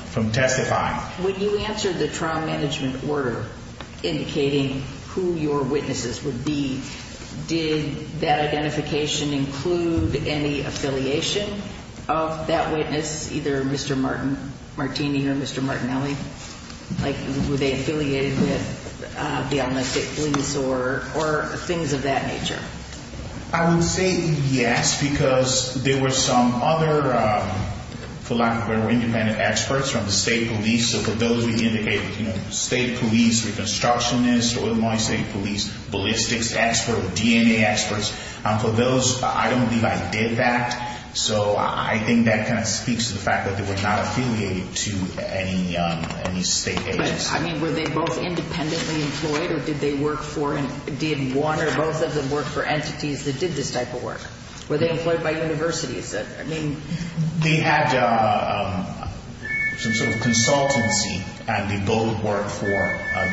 from testifying. When you answered the trial management order indicating who your witnesses would be, did that identification include any affiliation of that witness, either Mr. Martini or Mr. Martinelli? Like, were they affiliated with the Almanac State Police or things of that nature? I would say yes, because there were some other, for lack of a better word, independent experts from the state police. So for those we indicated, you know, state police, reconstructionists, Illinois State Police, ballistics experts, DNA experts. For those, I don't believe I did that. So I think that kind of speaks to the fact that they were not affiliated to any state agency. But, I mean, were they both independently employed, or did they work for, did one or both of them work for entities that did this type of work? Were they employed by universities? I mean. They had some sort of consultancy, and they both worked for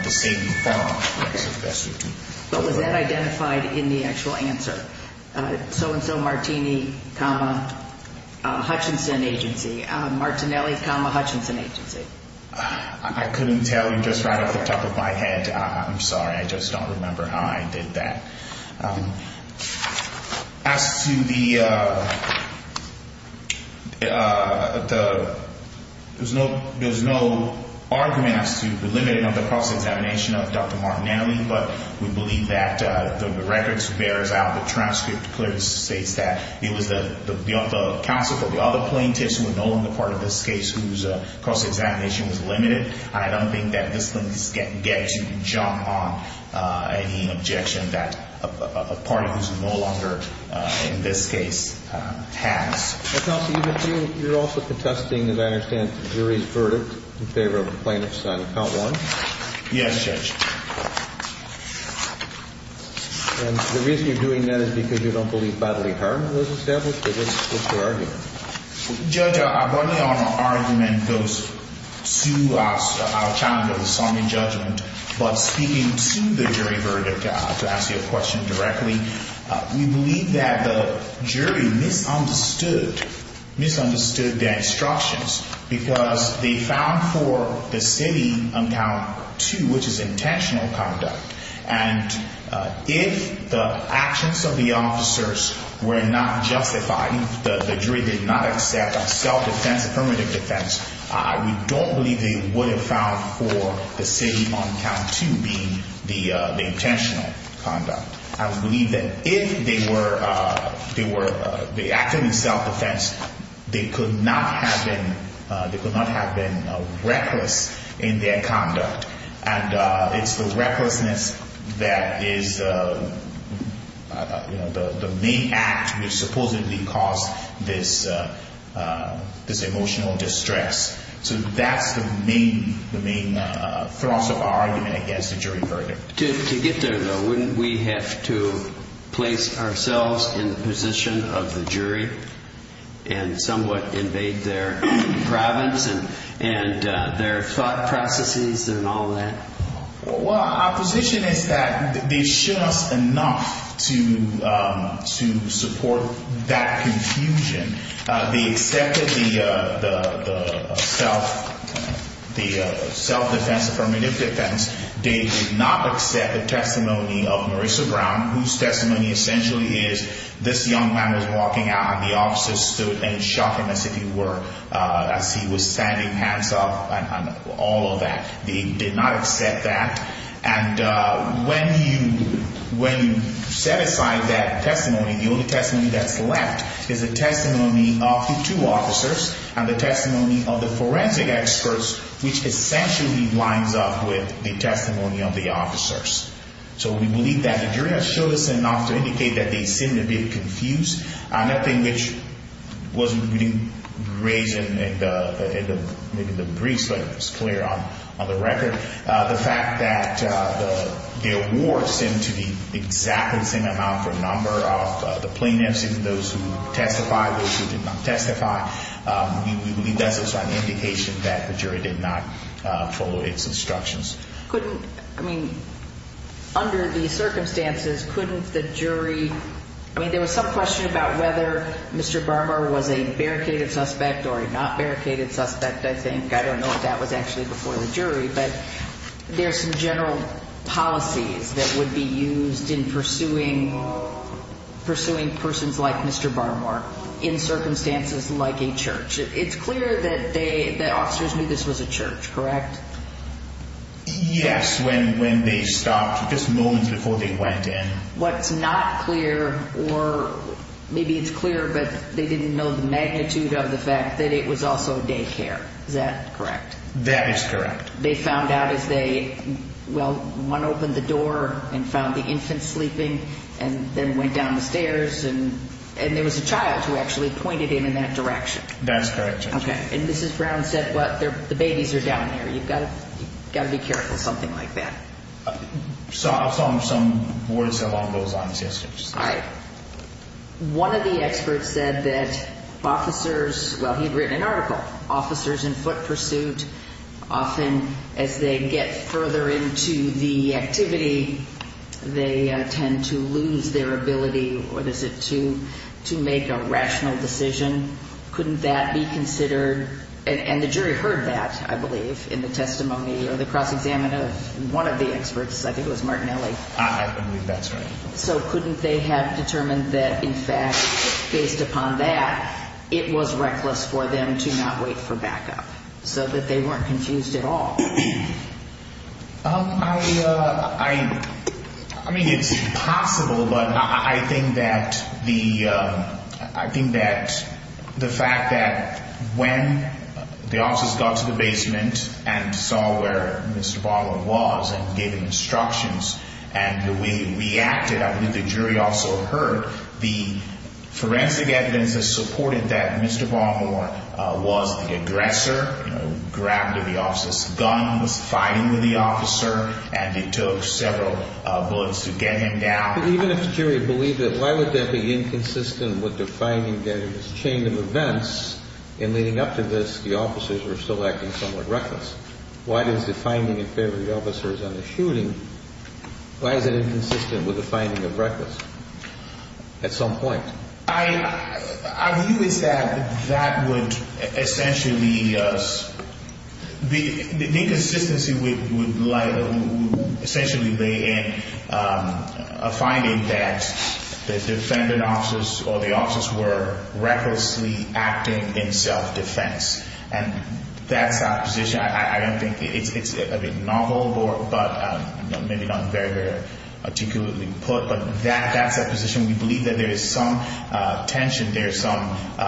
the same firm. What was that identified in the actual answer? So-and-so Martini, Hutchinson Agency. Martinelli, Hutchinson Agency. I couldn't tell you just right off the top of my head. I'm sorry. I just don't remember how I did that. As to the, there's no argument as to the limiting of the cross-examination of Dr. Martinelli, but we believe that the records bears out the transcript clearly states that it was the counsel for the other plaintiffs who were no longer part of this case whose cross-examination was limited. I don't think that this thing gets you to jump on any objection that a party who's no longer in this case has. Counsel, you're also contesting, as I understand, the jury's verdict in favor of the plaintiffs on account one. Yes, Judge. And the reason you're doing that is because you don't believe bodily harm was established? Or what's your argument? Judge, our bodily harm argument goes to our challenge of the Sonny judgment. But speaking to the jury verdict, to ask you a question directly, we believe that the jury misunderstood, misunderstood their instructions because they found for the city on count two, which is intentional conduct, and if the actions of the officers were not justified, the jury did not accept self-defense, affirmative defense, we don't believe they would have found for the city on count two being the intentional conduct. I believe that if they were acting in self-defense, they could not have been reckless in their conduct. And it's the recklessness that is the main act which supposedly caused this emotional distress. So that's the main thrust of our argument against the jury verdict. To get there, though, wouldn't we have to place ourselves in the position of the jury and somewhat invade their province and their thought processes and all that? Well, our position is that they should us enough to support that confusion. They accepted the self-defense, affirmative defense. They did not accept the testimony of Marissa Brown, whose testimony essentially is this young man is walking out and the officers stood and shocked him as if he were, as he was standing, hands up and all of that. They did not accept that. And when you set aside that testimony, the only testimony that's left is the testimony of the two officers and the testimony of the forensic experts, which essentially lines up with the testimony of the officers. So we believe that the jury has shown us enough to indicate that they seem to be confused. Another thing which wasn't really raised in maybe the briefs, but it was clear on the record, the fact that the awards seem to be exactly the same amount per number of the plaintiffs, even those who testified, those who did not testify. We believe that's an indication that the jury did not follow its instructions. Couldn't, I mean, under the circumstances, couldn't the jury, I mean, there was some question about whether Mr. Barmore was a barricaded suspect or a not barricaded suspect, I think. I don't know if that was actually before the jury, but there are some general policies that would be used in pursuing, pursuing persons like Mr. Barmore in circumstances like a church. It's clear that they, that officers knew this was a church, correct? Yes, when, when they stopped just moments before they went in. What's not clear or maybe it's clear, but they didn't know the magnitude of the fact that it was also daycare. Is that correct? That is correct. They found out as they, well, one opened the door and found the infant sleeping and then went down the stairs and there was a child who actually pointed him in that direction. That's correct, Judge. Okay, and Mrs. Brown said, well, the babies are down there. You've got to be careful, something like that. I saw some words along those lines yesterday. All right. One of the experts said that officers, well, he'd written an article, officers in foot pursuit often as they get further into the activity, they tend to lose their ability, what is it, to make a rational decision. Couldn't that be considered, and the jury heard that, I believe, in the testimony or the cross-examination of one of the experts, I think it was Martinelli. I believe that's right. So couldn't they have determined that, in fact, based upon that, it was reckless for them to not wait for backup so that they weren't confused at all? I mean, it's possible, but I think that the fact that when the officers got to the basement and saw where Mr. Baltimore was and gave him instructions and the way he reacted, I believe the jury also heard the forensic evidence that supported that Mr. Baltimore was the aggressor, grabbed the officer's gun, was fighting with the officer, and it took several bullets to get him down. Even if the jury believed that, why would that be inconsistent with defining that it was a chain of events, and leading up to this, the officers were still acting somewhat reckless? Why is the finding in favor of the officers on the shooting, why is that inconsistent with the finding of reckless at some point? Our view is that that would essentially be the inconsistency would essentially lay in a finding that the defendant officers or the officers were recklessly acting in self-defense, and that's our position. I don't think it's novel or maybe not very articulately put, but that's our position. We believe that there is some tension, there is some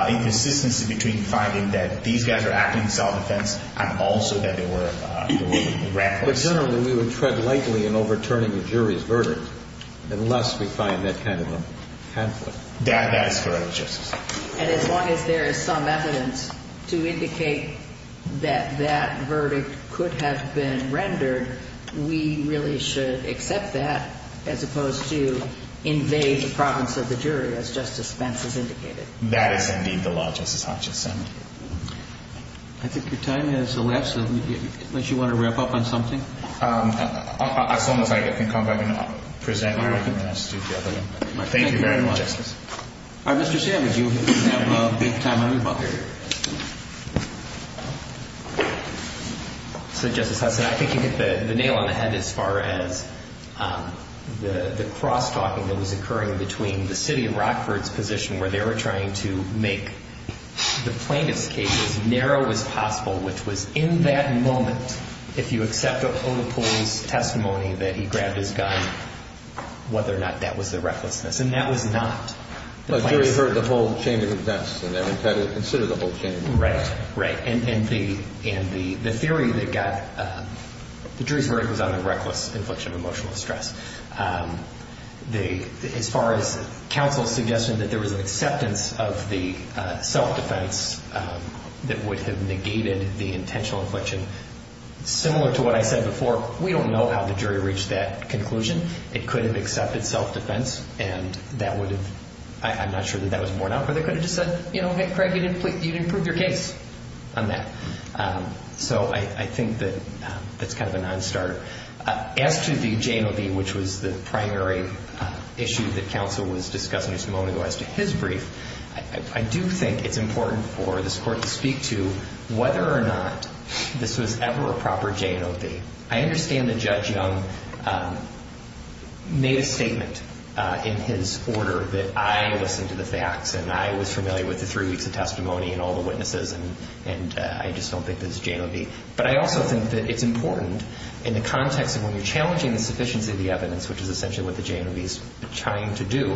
inconsistency between finding that these guys are acting in self-defense and also that they were reckless. But generally, we would tread lightly in overturning a jury's verdict unless we find that kind of a pamphlet. That is correct, Justice. And as long as there is some evidence to indicate that that verdict could have been rendered, we really should accept that as opposed to invade the province of the jury, as Justice Spence has indicated. That is indeed the law, Justice Hodges. I think your time has elapsed. Unless you want to wrap up on something? As long as I can come back and present, we can do that together. Thank you very much, Justice. Mr. Savage, you have a big time to move on. So, Justice Hudson, I think you hit the nail on the head as far as the cross-talking that was occurring between the city of Rockford's position where they were trying to make the plaintiff's case as narrow as possible, which was in that moment, if you accept Oda Poole's testimony that he grabbed his gun, whether or not that was the recklessness. The jury heard the whole chain of events, and they were trying to consider the whole chain of events. Right. And the theory that got the jury's verdict was on the reckless infliction of emotional distress. As far as counsel's suggestion that there was an acceptance of the self-defense that would have negated the intentional infliction, similar to what I said before, we don't know how the jury reached that conclusion. It could have accepted self-defense, and that would have, I'm not sure that that was borne out, but they could have just said, you know, Craig, you didn't prove your case on that. So I think that that's kind of a non-starter. As to the J&OB, which was the primary issue that counsel was discussing just a moment ago, as to his brief, I do think it's important for this court to speak to whether or not this was ever a proper J&OB. I understand that Judge Young made a statement in his order that I listened to the facts and I was familiar with the three weeks of testimony and all the witnesses, and I just don't think this is J&OB. But I also think that it's important in the context of when you're challenging the sufficiency of the evidence, which is essentially what the J&OB is trying to do,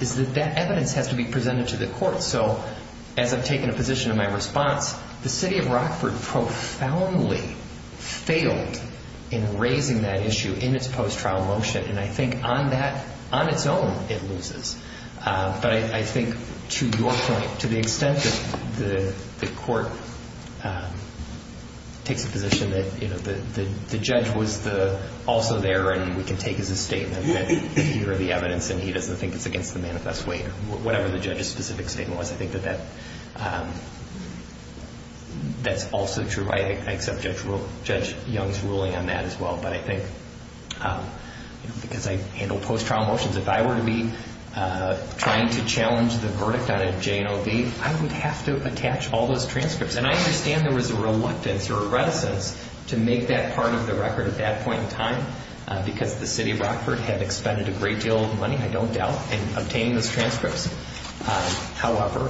is that that evidence has to be presented to the court. So as I've taken a position in my response, the city of Rockford profoundly failed in raising that issue in its post-trial motion, and I think on that, on its own, it loses. But I think to your point, to the extent that the court takes a position that, you know, the judge was also there and we can take as a statement that either the evidence and he doesn't think it's against the manifest weight or whatever the judge's specific statement was, I think that that's also true. I accept Judge Young's ruling on that as well. But I think because I handle post-trial motions, if I were to be trying to challenge the verdict on a J&OB, I would have to attach all those transcripts. And I understand there was a reluctance or a reticence to make that part of the record at that point in time because the city of Rockford had expended a great deal of money, I don't doubt, in obtaining those transcripts. However,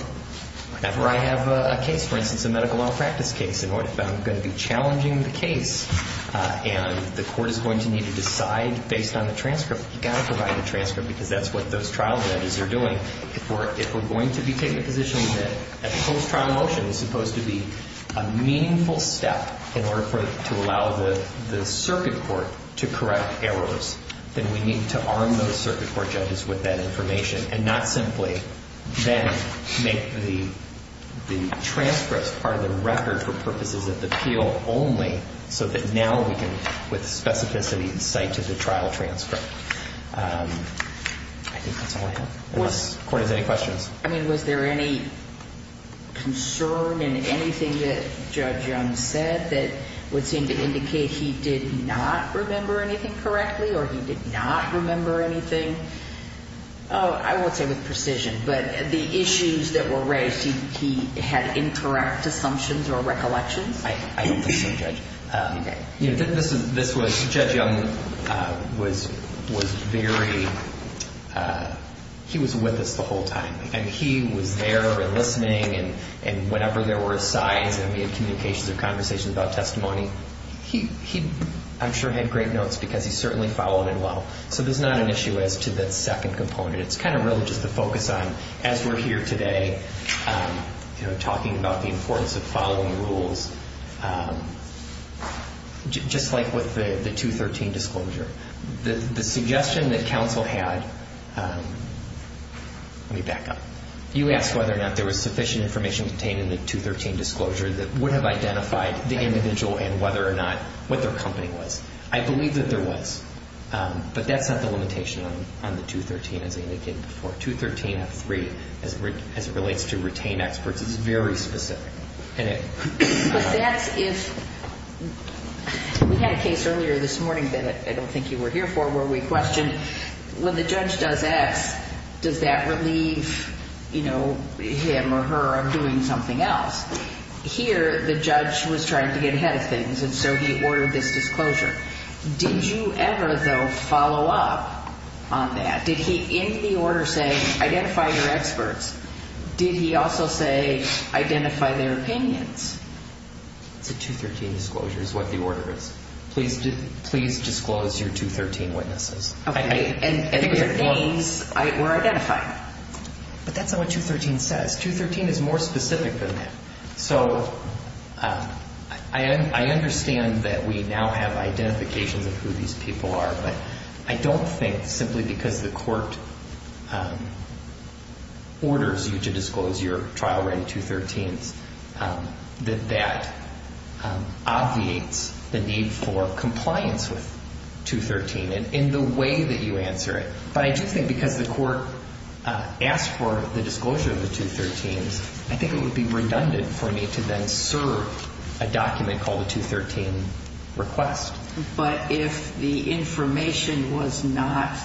whenever I have a case, for instance, a medical malpractice case, and I'm going to be challenging the case and the court is going to need to decide based on the transcript, you've got to provide a transcript because that's what those trial judges are doing. If we're going to be taking a position that a post-trial motion is supposed to be a meaningful step in order to allow the circuit court to correct errors, then we need to arm those circuit court judges with that information and not simply then make the transcripts part of the record for purposes of the appeal only so that now we can, with specificity, cite to the trial transcript. I think that's all I have. If the court has any questions. I mean, was there any concern in anything that Judge Young said that would seem to indicate he did not remember anything correctly or he did not remember anything? I won't say with precision, but the issues that were raised, he had incorrect assumptions or recollections? This was, Judge Young was very, he was with us the whole time and he was there and listening and whenever there were sighs and we had communications or conversations about testimony, he, I'm sure, had great notes because he certainly followed it well. So there's not an issue as to the second component. It's kind of really just a focus on, as we're here today, talking about the importance of following the rules, just like with the 213 disclosure. The suggestion that counsel had, let me back up. You asked whether or not there was sufficient information contained in the 213 disclosure that would have identified the individual and whether or not, what their company was. I believe that there was, but that's not the limitation on the 213 as I indicated before. The 213.3, as it relates to retain experts, is very specific. But that's if, we had a case earlier this morning that I don't think you were here for, where we questioned when the judge does X, does that relieve him or her of doing something else? Here, the judge was trying to get ahead of things and so he ordered this disclosure. Did you ever, though, follow up on that? Did he, in the order, say identify your experts? Did he also say identify their opinions? It's a 213 disclosure is what the order is. Please disclose your 213 witnesses. Okay, and their names were identified. But that's not what 213 says. 213 is more specific than that. So I understand that we now have identifications of who these people are, but I don't think simply because the court orders you to disclose your trial-ready 213s that that obviates the need for compliance with 213 in the way that you answer it. But I do think because the court asked for the disclosure of the 213s, I think it would be redundant for me to then serve a document called a 213 request. But if the information was not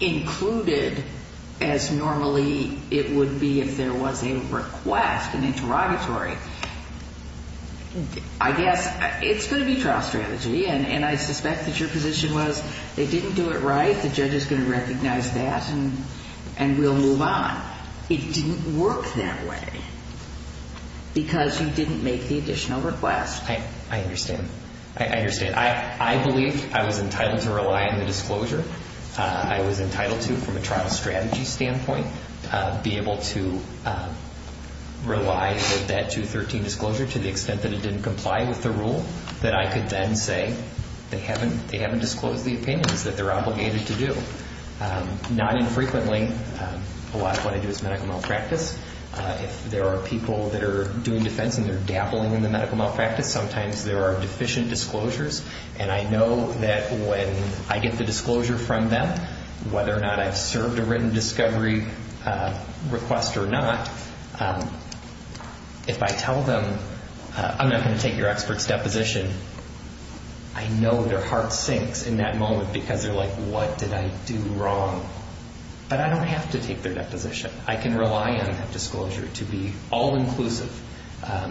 included as normally it would be if there was a request, an interrogatory, I guess it's going to be trial strategy, and I suspect that your position was they didn't do it right, the judge is going to recognize that and we'll move on. It didn't work that way because you didn't make the additional request. I understand. I understand. I believe I was entitled to rely on the disclosure. I was entitled to, from a trial strategy standpoint, be able to rely with that 213 disclosure to the extent that it didn't comply with the rule, that I could then say they haven't disclosed the opinions that they're obligated to do. Not infrequently, a lot of what I do is medical malpractice. If there are people that are doing defense and they're dabbling in the medical malpractice, sometimes there are deficient disclosures, and I know that when I get the disclosure from them, whether or not I've served a written discovery request or not, if I tell them I'm not going to take your expert's deposition, I know their heart sinks in that moment because they're like, what did I do wrong? But I don't have to take their deposition. I can rely on that disclosure to be all-inclusive.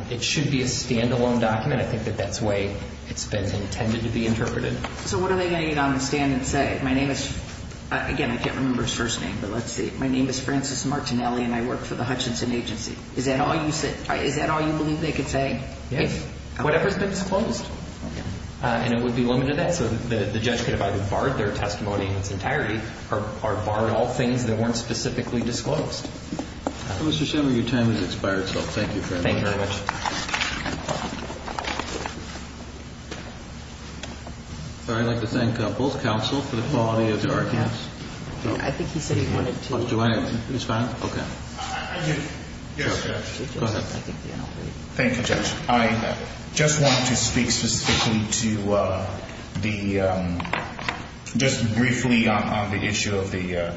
It should be a standalone document. I think that that's the way it's been intended to be interpreted. So what are they going to get on the stand and say? My name is, again, I can't remember his first name, but let's see. My name is Francis Martinelli, and I work for the Hutchinson Agency. Is that all you believe they could say? Yes. Whatever's been disclosed. And it would be limited to that. So the judge could have either barred their testimony in its entirety or barred all things that weren't specifically disclosed. Mr. Shimmer, your time has expired. So thank you very much. Thank you very much. I'd like to thank both counsel for the quality of the arguments. I think he said he wanted to. Do I respond? Okay. Yes, Judge. Go ahead. Thank you, Judge. I just want to speak specifically to the ‑‑ just briefly on the issue of the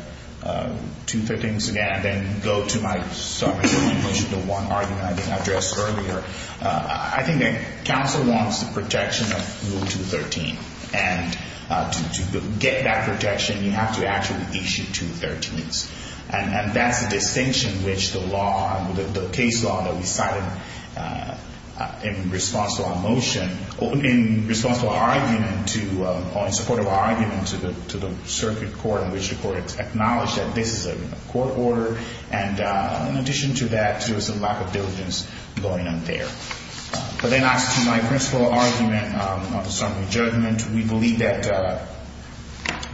213s again and then go to my summary of the motion, the one argument I didn't address earlier. I think that counsel wants the protection of Rule 213, and to get that protection you have to actually issue 213s. And that's a distinction which the case law that we cited in response to our motion or in support of our argument to the circuit court in which the court acknowledged that this is a court order. And in addition to that, there was a lack of diligence going on there. But then as to my principle argument on the summary judgment, we believe that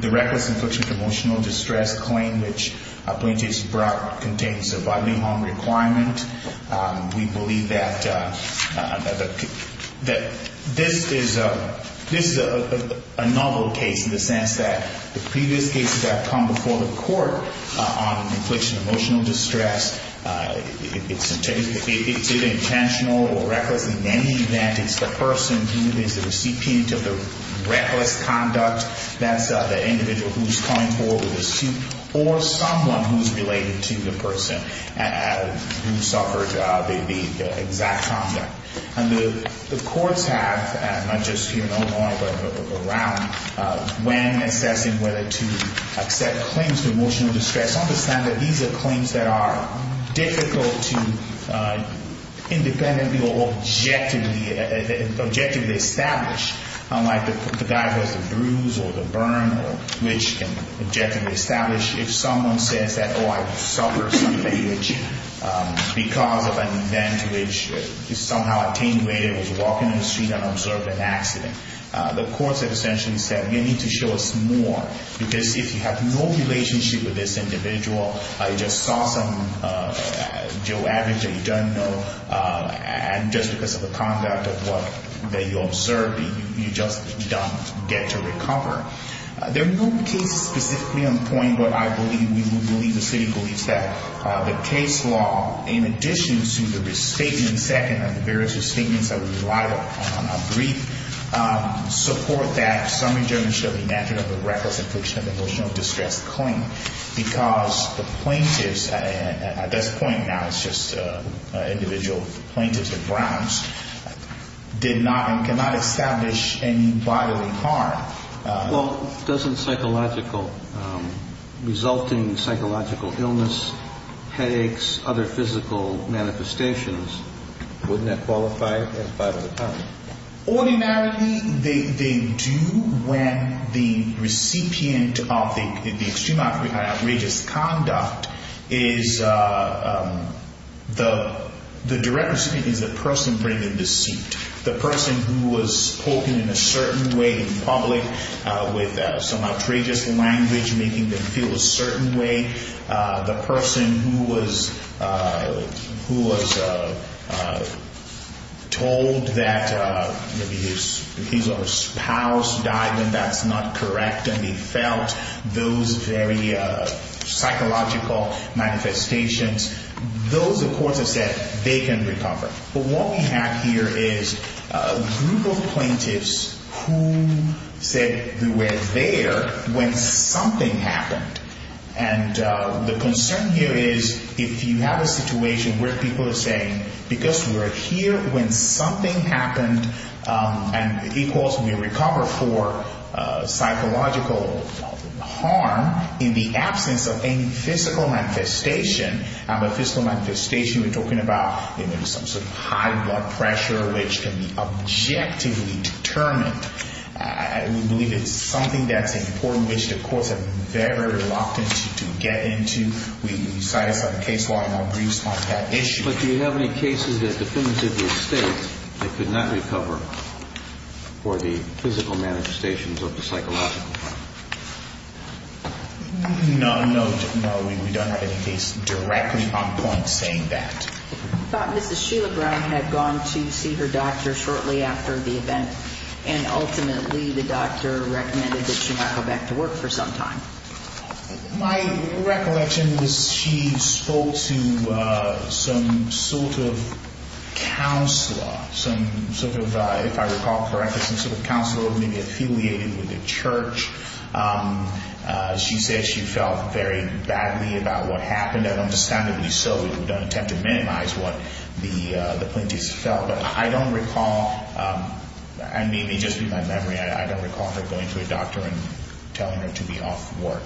the reckless infliction of emotional distress claim which plaintiff brought contains a bodily harm requirement. We believe that this is a novel case in the sense that the previous cases that have come before the court on infliction of emotional distress, it's intentional or reckless in any event. It's the person who is the recipient of the reckless conduct. That's the individual who's coming forward with a suit or someone who's related to the person who suffered the exact conduct. And the courts have, not just here in Illinois but around, when assessing whether to accept claims to emotional distress, understand that these are claims that are difficult to independently or objectively establish. Unlike the guy who has the bruise or the burn which can objectively establish if someone says that, oh, I suffered something because of an event which is somehow attenuated, was walking in the street and observed an accident. The courts have essentially said, we need to show us more because if you have no relationship with this individual, you just saw some Joe Average that you don't know, and just because of the conduct of what you observed, you just don't get to recover. There are no cases specifically on point, but I believe, we believe, the city believes that the case law, in addition to the restatement, second of the various restatements that we relied upon, a brief support that summary judgment shall be measured on the reckless infliction of emotional distress claim because the plaintiffs, at this point now, it's just individual plaintiffs and Browns, did not and cannot establish any bodily harm. Well, doesn't psychological, resulting psychological illness, headaches, other physical manifestations, wouldn't that qualify as bodily harm? Ordinarily, they do when the recipient of the extreme outrageous conduct is, the direct recipient is the person bringing the suit, the person who was spoken in a certain way in public with some outrageous language making them feel a certain way, the person who was told that maybe his spouse died and that's not correct and he felt those very psychological manifestations, those, of course, are said, they can recover. But what we have here is a group of plaintiffs who said they were there when something happened. And the concern here is if you have a situation where people are saying, because we're here when something happened, and it equals we recover for psychological harm in the absence of any physical manifestation, and by physical manifestation we're talking about, you know, some sort of high blood pressure which can be objectively determined. We believe it's something that's important, which the courts have been very reluctant to get into. We decided on the case law and our briefs on that issue. But do you have any cases that definitively state they could not recover for the physical manifestations of the psychological harm? No, no, no. We don't have any case directly on point saying that. I thought Mrs. Sheila Brown had gone to see her doctor shortly after the event and ultimately the doctor recommended that she not go back to work for some time. My recollection was she spoke to some sort of counselor, some sort of, if I recall correctly, some sort of counselor, maybe affiliated with the church. She said she felt very badly about what happened, and understandably so. We don't intend to minimize what the plaintiffs felt. But I don't recall, and maybe just in my memory, I don't recall her going to a doctor and telling her to be off work.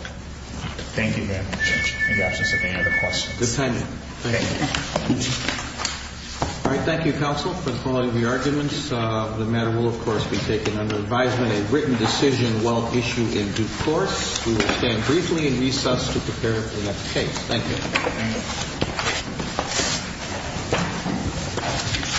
Thank you very much. If you have any other questions. Good timing. Thank you. All right. Thank you, counsel, for the quality of your arguments. The matter will, of course, be taken under advisement, a written decision well issued in due course. We will stand briefly in recess to prepare for the next case. Thank you. Thank you.